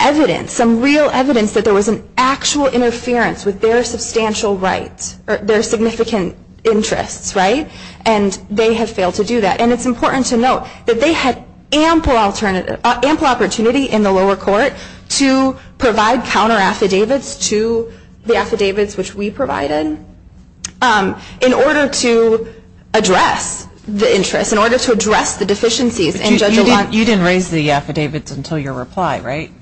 evidence, some real evidence that there was an actual interference with their substantial rights, their significant interests. And they have failed to do that. And it's important to note that they had ample opportunity in the lower court to provide counter-affidavits to the affidavits which we provided in order to address the interests, in order to address the deficiencies. You didn't raise the affidavits until your reply, right?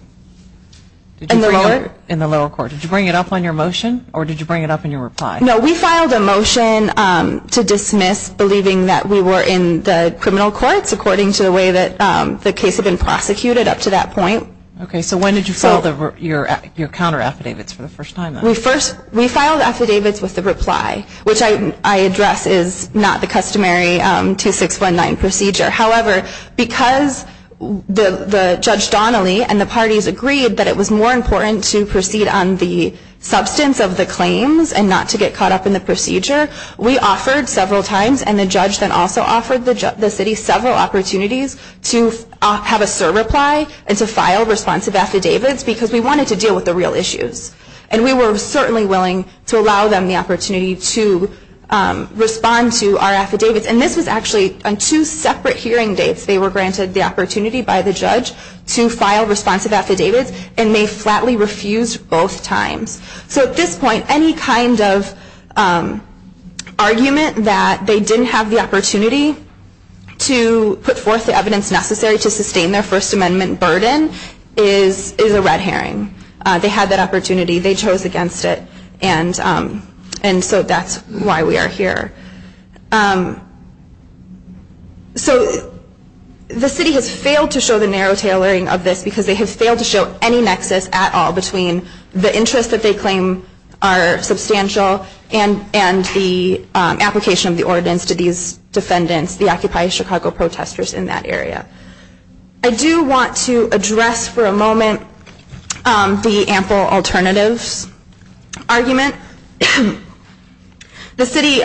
In the lower court. Did you bring it up on your motion, or did you bring it up on your reply? No, we filed a motion to dismiss believing that we were in the criminal courts according to the way that the case had been prosecuted up to that point. Okay, so when did you file your counter-affidavits for the first time, then? We filed affidavits with the reply, which I address as not the customary 2619 procedure. However, because Judge Donnelly and the parties agreed that it was more important to proceed on the substance of the claims and not to get caught up in the procedure, we offered several times, and the judge then also offered the city several opportunities to have a sur-reply and to file responsive affidavits because we wanted to deal with the real issues. And we were certainly willing to allow them the opportunity to respond to our affidavits. And this was actually on two separate hearing dates. They were granted the opportunity by the judge to file responsive affidavits and may flatly refuse both times. So at this point, any kind of argument that they didn't have the opportunity to put forth the evidence necessary to sustain their First Amendment burden is a red herring. They had that opportunity. They chose against it. And so that's why we are here. So the city has failed to show the narrow tailoring of this because they have failed to show any nexus at all between the interests that they claim are substantial and the application of the ordinance to these defendants, the Occupy Chicago protesters in that area. I do want to address for a moment the ample alternatives argument. The city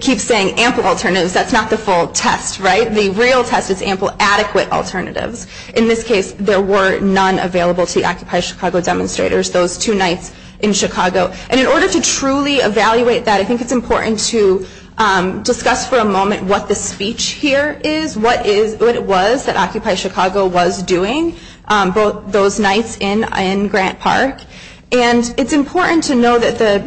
keeps saying ample alternatives. That's not the full test, right? The real test is ample adequate alternatives. In this case, there were none available to the Occupy Chicago demonstrators those two nights in Chicago. And in order to truly evaluate that, I think it's important to discuss for a moment what the speech here is, what it was that Occupy Chicago was doing both those nights in Grant Park. And it's important to know that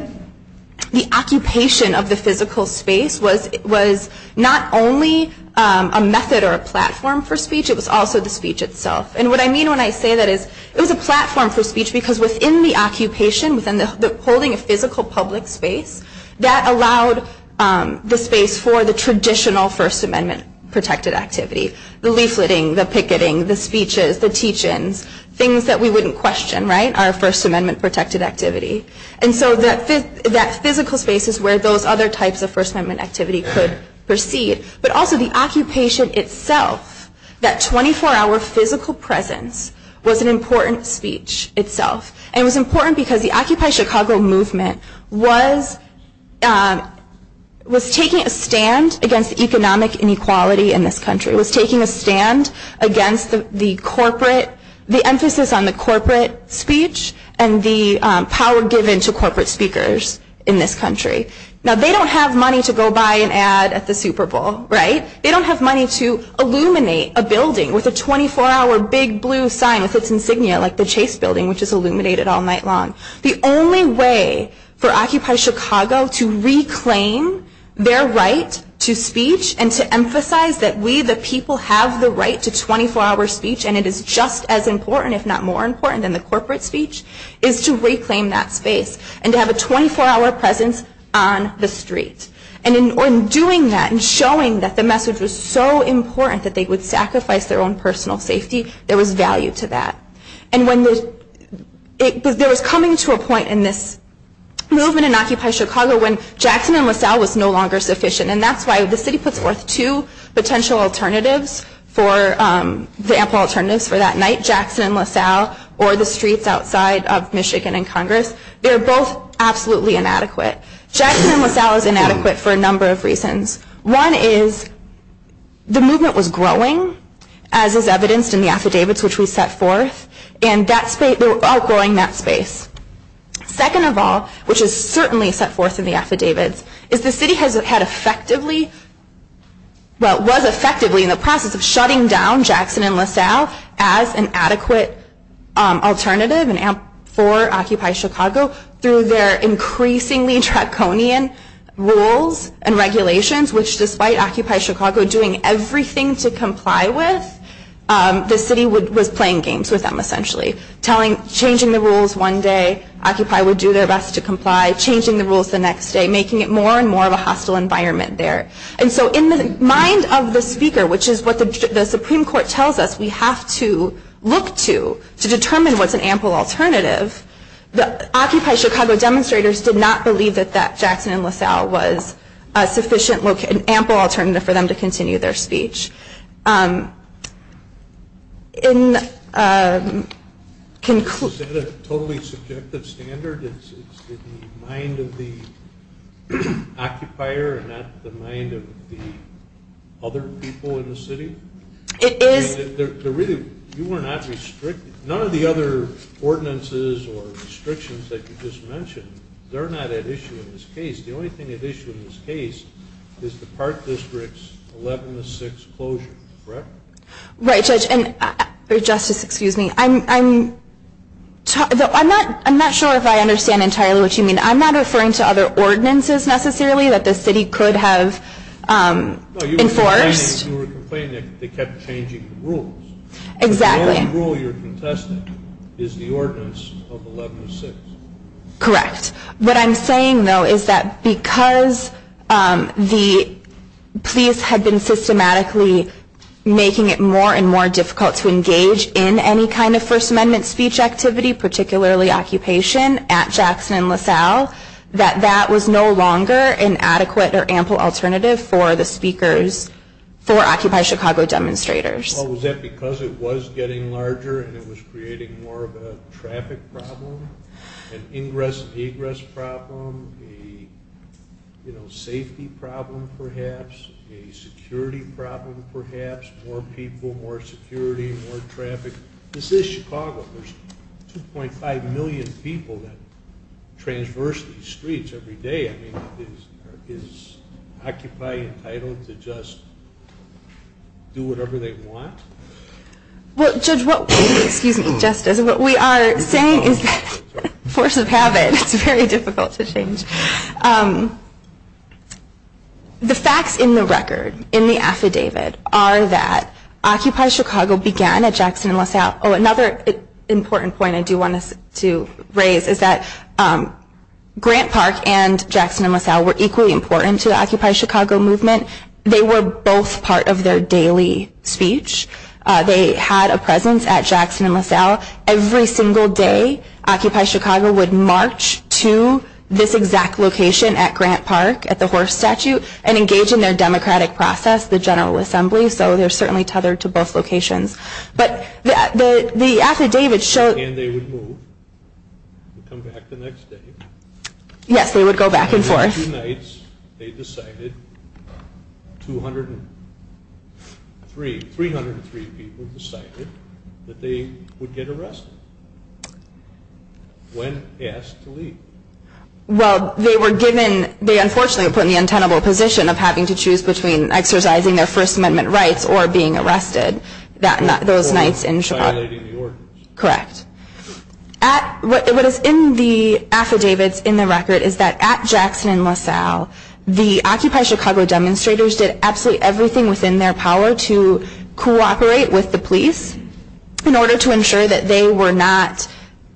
the occupation of the physical space was not only a method or a platform for speech, it was also the speech itself. And what I mean when I say that is it was a platform for speech because within the occupation, within holding a physical public space, that allowed the space for the traditional First Amendment-protected activity. The leafleting, the picketing, the speeches, the teach-ins, things that we wouldn't question, right? Our First Amendment-protected activity. And so that physical space is where those other types of First Amendment activity could proceed. But also the occupation itself, that 24-hour physical presence was an important speech itself. And it was important because the Occupy Chicago movement was taking a stand against economic inequality in this country. It was taking a stand against the corporate, the emphasis on the corporate speech and the power given to corporate speakers in this country. Now they don't have money to go buy an ad at the Super Bowl, right? They don't have money to illuminate a building with a 24-hour big blue sign with its insignia like the Chase Building, which is illuminated all night long. The only way for Occupy Chicago to reclaim their right to speech and to emphasize that we the people have the right to 24-hour speech and it is just as important, if not more important, than the corporate speech is to reclaim that space and to have a 24-hour presence on the street. And in doing that and showing that the message was so important that they would sacrifice their own personal safety, there was value to that. There was coming to a point in this movement in Occupy Chicago when Jackson and LaSalle was no longer sufficient and that's why the city puts forth two potential alternatives for the ample alternatives for that night, Jackson and LaSalle or the streets outside of Michigan and Congress. They're both absolutely inadequate. Jackson and LaSalle is inadequate for a number of reasons. One is the movement was growing as is evidenced in the affidavits which we set forth and they were all growing that space. Second of all, which is certainly set forth in the affidavits, is the city was effectively in the process of shutting down Jackson and LaSalle as an adequate alternative for Occupy Chicago through their increasingly draconian rules and regulations which despite Occupy Chicago doing everything to comply with the city was playing games with them essentially. Changing the rules one day, Occupy would do their best to comply, changing the rules the next day, making it more and more of a hostile environment there. In the mind of the speaker, which is what the Supreme Court tells us we have to look to to determine what's an ample alternative, the Occupy Chicago demonstrators did not believe that Jackson and LaSalle was an ample alternative for them to continue their speech. Is that a totally subjective standard? It's the mind of the occupier and not the mind of the other people in the city? None of the other ordinances or restrictions that you just mentioned they're not at issue in this case. The only thing at issue in this case is the Park District's 11-6 closure, correct? Justice, excuse me, I'm not sure if I understand entirely what you mean. I'm not referring to other ordinances necessarily that the city could have enforced. You were complaining that they kept changing the rules. The only rule you're contesting is the ordinance of 11-6. Correct. What I'm saying though is that because the police had been systematically making it more and more difficult to engage in any kind of First Amendment speech activity particularly occupation at Jackson and LaSalle that that was no longer an adequate or ample alternative for the speakers for Occupy Chicago demonstrators. Was that because it was getting larger and it was creating more of a traffic problem? An ingress and egress problem? A safety problem perhaps? A security problem perhaps? More people, more security, more traffic? This is Chicago. There's 2.5 million people that transverse these streets every day. Is Occupy entitled to just do whatever they want? Well Judge, what we are saying is that force of habit is very difficult to change. The facts in the record in the affidavit are that Occupy Chicago began at Jackson and LaSalle. Another important point I do want to raise is that Grant Park and Jackson and LaSalle were equally important to the Occupy Chicago movement. They were both part of their daily speech. They had a presence at Jackson and LaSalle. Every single day, Occupy Chicago would march to this exact location at Grant Park at the horse statue and engage in their democratic process, the General Assembly, so they're certainly tethered to both locations. But the affidavit showed and they would move and come back the next day. Yes, they would go back and forth. They decided 303 people decided that they would get arrested when asked to leave. Well, they were given, they unfortunately were put in the untenable position of having to choose between exercising their First Amendment rights or being arrested those nights in Chicago. Correct. What is in the affidavits in the record is that at Jackson and LaSalle, the Occupy Chicago demonstrators did absolutely everything within their power to cooperate with the police in order to ensure that they were not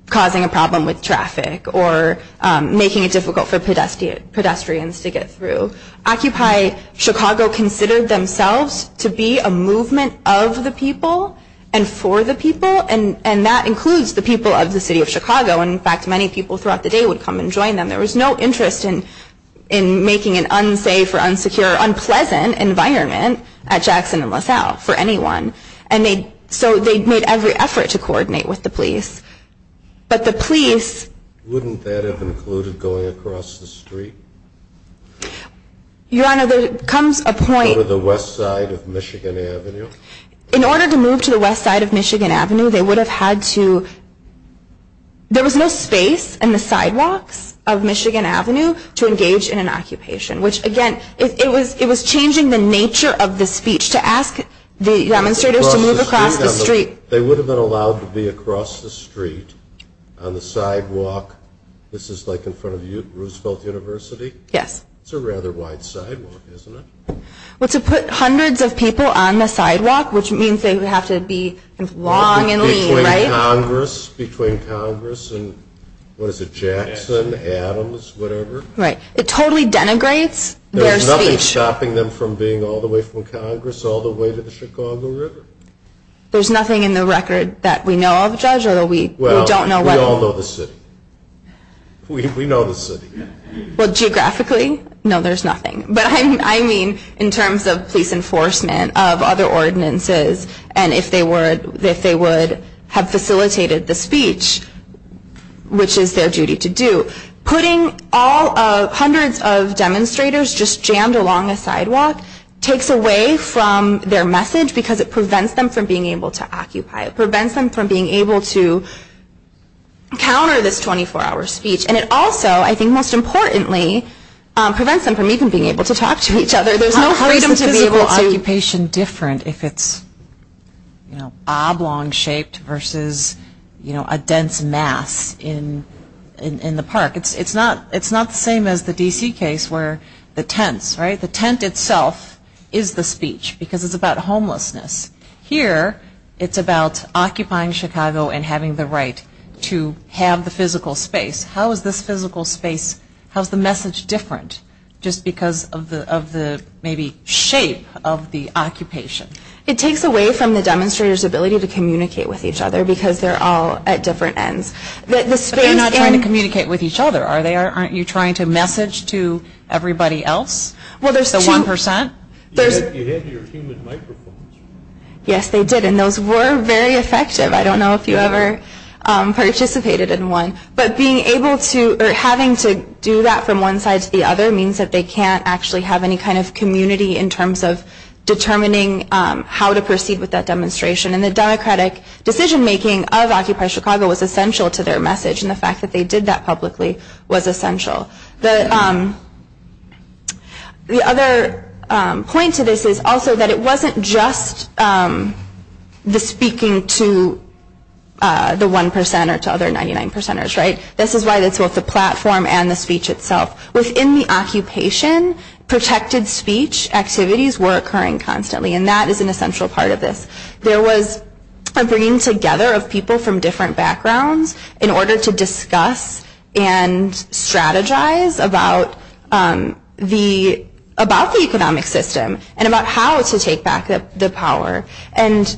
causing a problem with traffic or making it difficult for pedestrians to get through. Occupy Chicago considered themselves to be a movement of the people and for the people, and that includes the people of the city of Chicago. In fact, many people throughout the day would come and join them. There was no interest in making an unsafe or unsecure or unpleasant environment at Jackson and LaSalle for anyone. So they made every effort to coordinate with the police. But the police... Your Honor, there comes a point... To the west side of Michigan Avenue? In order to move to the west side of Michigan Avenue, they would have had to... There was no space in the sidewalks of Michigan Avenue to engage in an occupation, which again, it was changing the nature of the speech to ask the demonstrators to move across the street. They would have been allowed to be across the street on the sidewalk. This is like in front of Roosevelt University? Yes. It's a rather wide sidewalk, isn't it? Well, to put hundreds of people on the sidewalk, which means they would have to be long and lean, right? Between Congress and, what is it, Jackson, Adams, whatever? Right. It totally denigrates their speech. There's nothing stopping them from being all the way from Congress all the way to the Chicago River? There's nothing in the record that we know of, Judge? Well, we all know the city. We know the city. Well, geographically, no, there's nothing. But I mean in terms of police enforcement, of other ordinances, and if they would have facilitated the speech, which is their duty to do. Putting hundreds of demonstrators just jammed along a sidewalk takes away from their message because it prevents them from being able to occupy. It prevents them from being able to counter this 24-hour speech. And it also, I think most importantly, prevents them from even being able to talk to each other. There's no freedom to be able to... How is the physical occupation different if it's oblong-shaped versus a dense mass in the park? It's not the same as the D.C. case where the tents, right, the tent itself is the speech because it's about homelessness. Here, it's about occupying Chicago and having the right to have the physical space. How is this physical space, how's the message different just because of the maybe shape of the occupation? It takes away from the demonstrators' ability to communicate with each other because they're all at different ends. But they're not trying to communicate with each other, are they? Aren't you trying to message to everybody else? The 1%? You had your human microphones. Yes, they did, and those were very effective. I don't know if you ever participated in one. But having to do that from one side to the other means that they can't actually have any kind of community in terms of determining how to proceed with that demonstration. And the democratic decision making of Occupy Chicago was essential to their message and the fact that they did that publicly was essential. The other point to this is also that it wasn't just the speaking to the 1% or to other 99%ers, right? This is why it's both the platform and the speech itself. Within the occupation, protected speech activities were occurring constantly and that is an essential part of this. There was a bringing together of people from different backgrounds in order to discuss and strategize about the economic system and about how to take back the power. And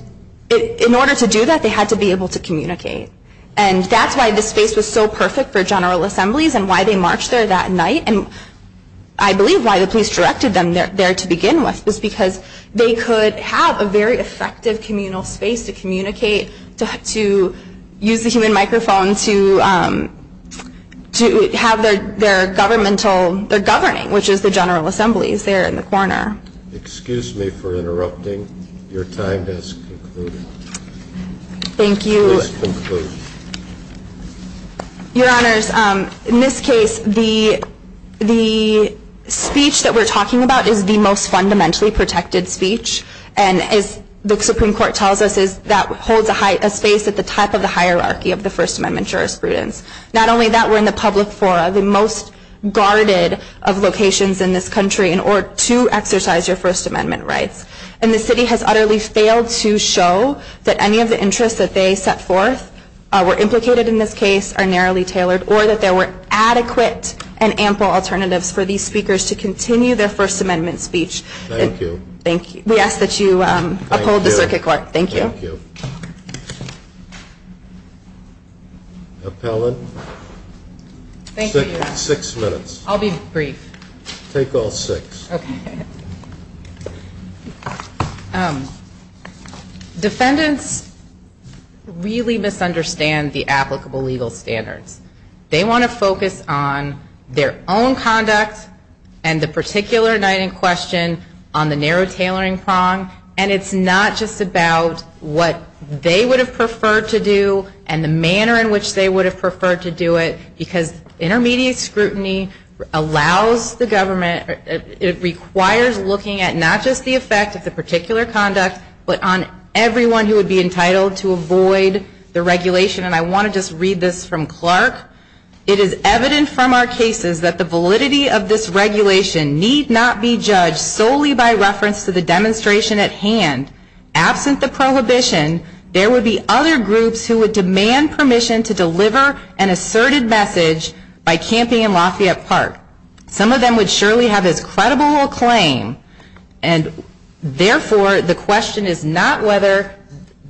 in order to do that, they had to be able to communicate. And that's why the space was so perfect for General Assemblies and why they marched there that night and I believe why the police directed them there to begin with was because they could have a very effective communal space to communicate, to use the human microphone to have their governing, which is the General Assemblies there in the corner. Excuse me for interrupting. Your time has concluded. Thank you. Your Honors, in this case the speech that we're talking about is the most fundamentally protected speech and as the Supreme Court tells us that holds a space at the top of the hierarchy of the First Amendment jurisprudence. Not only that, we're in the public fora, the most guarded of locations in this country in order to exercise your First Amendment rights. And the city has utterly failed to show that any of the interests that they set forth were implicated in this case are narrowly tailored or that there were adequate and ample alternatives for these speakers to continue their First Amendment speech. Thank you. We ask that you uphold the Circuit Court. Thank you. Thank you. Appellant. Six minutes. I'll be brief. Take all six. Defendants really misunderstand the applicable legal standards. They want to focus on their own conduct and the particular night in question on the narrow tailoring prong and it's not just about what they would have preferred to do and the manner in which they would have preferred to do it because intermediate scrutiny allows the government it requires looking at not just the effect of the particular conduct but on everyone who would be entitled to avoid the regulation and I want to just read this from Clark. It is evident from our cases that the validity of this regulation need not be judged solely by reference to the demonstration at hand. Absent the prohibition, there would be other groups who would demand permission to deliver an asserted message by camping in Lafayette Park. Some of them would surely have as credible a claim and therefore the question is not whether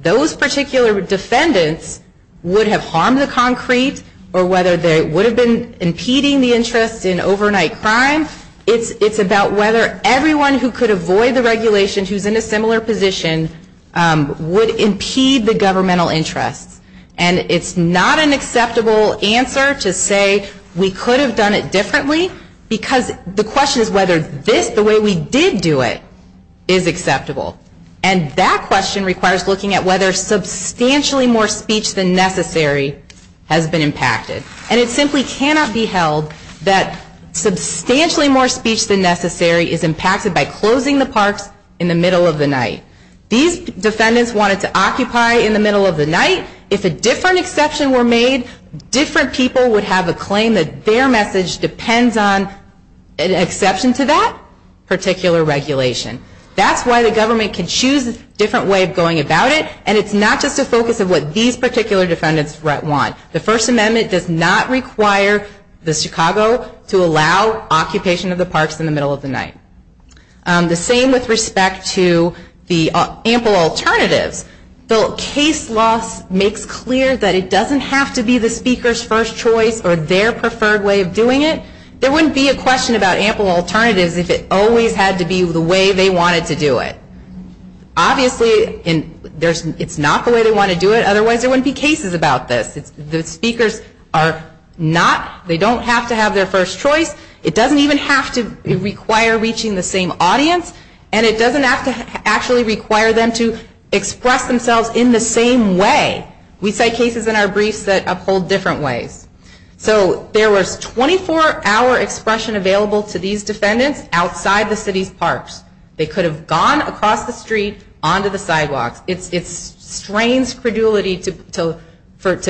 those particular defendants would have harmed the concrete or whether they would have been impeding the interest in overnight crime. It's about whether everyone who could avoid the regulation who is in a similar position would impede the governmental interest and it's not an acceptable answer to say we could have done it differently because the question is whether this, the way we did do it, is acceptable and that question requires looking at whether substantially more speech than necessary has been impacted and it simply cannot be held that substantially more speech than necessary is impacted by closing the parks in the middle of the night. These defendants wanted to occupy in the middle of the night. If a different exception were made, different people would have a claim that their message depends on an exception to that particular regulation. That's why the government can choose a different way of going about it and it's not just a focus of what these particular defendants want. The First Amendment does not require the Chicago to allow occupation of the parks in the middle of the night. The same with respect to the ample alternatives. The case law makes clear that it doesn't have to be the speaker's first choice or their preferred way of doing it. There wouldn't be a question about ample alternatives if it always had to be the way they wanted to do it. Obviously it's not the way they want to do it otherwise there wouldn't be cases about this. The speakers don't have to have their first choice. It doesn't even have to require reaching the same audience and it doesn't have to actually require them to express themselves in the same way. We cite cases in our briefs that uphold different ways. So there was 24-hour expression available to these defendants outside the city's parks. They could have gone across the street onto the sidewalks. It's strange credulity to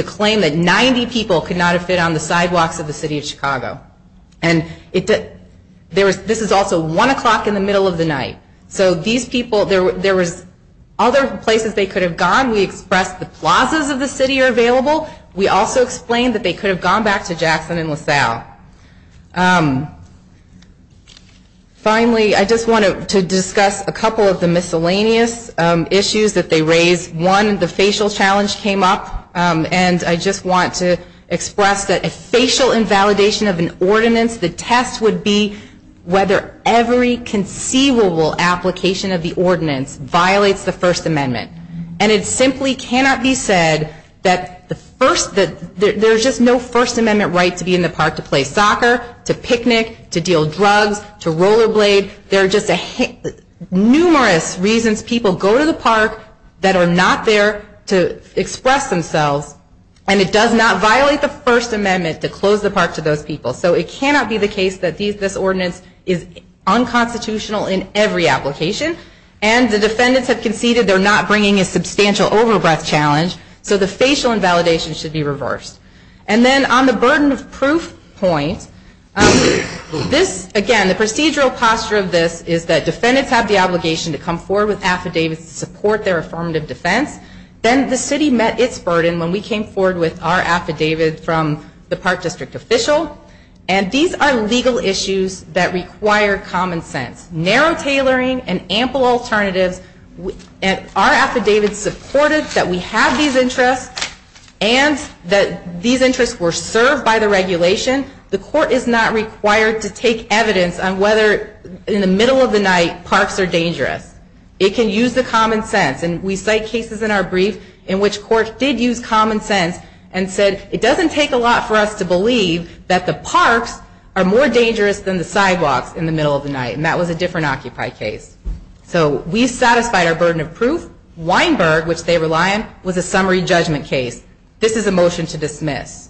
claim that 90 people could not have fit on the sidewalks of the city of Chicago. This is also 1 o'clock in the middle of the night. So these people, there was other places they could have gone. We expressed the plazas of the city are available. We also explained that they could have gone back to Jackson and LaSalle. Finally, I just wanted to discuss a couple of the miscellaneous issues that they raised. One, the facial challenge came up and I just want to express that a facial invalidation of an ordinance, the test would be whether every conceivable application of the ordinance violates the First Amendment. And it simply cannot be said that there's just no First Amendment right to be in the park to play soccer, to picnic, to deal drugs, to roller blade. There are just numerous reasons people go to the park that are not there to express themselves and it does not violate the First Amendment to close the park to those people. So it cannot be the case that this ordinance is unconstitutional in every application and the defendants have conceded they're not bringing a substantial overbreath challenge. So the facial invalidation should be reversed. And then on the burden of proof point, again, the procedural posture of this is that defendants have the obligation to come forward with affidavits to support their affirmative defense. Then the city met its burden when we came forward with our affidavit from the park district official and these are legal issues that require common sense. Narrow tailoring and ample alternatives and our affidavit supported that we have these interests and that these interests were served by the regulation. The court is not required to take evidence on whether in the middle of the night parks are dangerous. It can use the common sense and we cite cases in our brief in which court did use common sense and said it doesn't take a lot for us to believe that the parks are more dangerous than the sidewalks in the middle of the night and that was a different Occupy case. So we satisfied our burden of proof. Weinberg, which they rely on, was a summary judgment case. This is a motion to dismiss.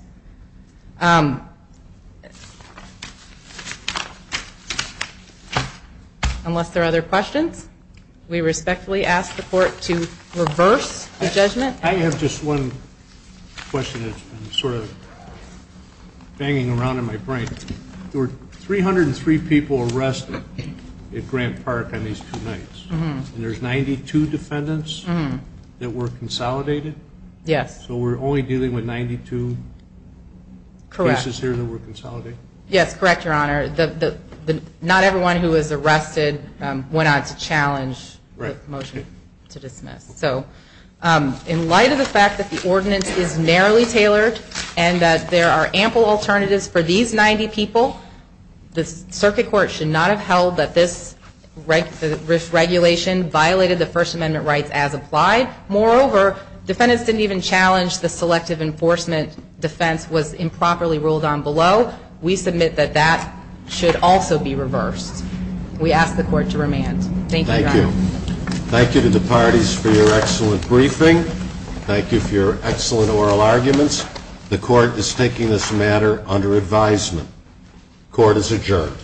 Unless there are other questions? We respectfully ask the court to reverse the judgment. I have just one question that's been sort of banging around in my brain. There were 303 people arrested at Grant Park on these two nights and there's 92 defendants that were consolidated? Yes. So we're only dealing with 92 cases here that were consolidated? Yes, correct, Your Honor. Not everyone who was arrested went on to challenge the motion to dismiss. In light of the fact that the ordinance is narrowly tailored and that there are ample alternatives for these 90 people, the circuit court should not have held that this regulation violated the First Amendment rights as applied. Moreover, defendants didn't even challenge the selective enforcement defense was improperly ruled on below. We submit that that should also be reversed. We ask the court to remand. Thank you, Your Honor. Thank you to the parties for your excellent briefing. Thank you for your excellent oral arguments. The court is taking this matter under advisement. Court is adjourned.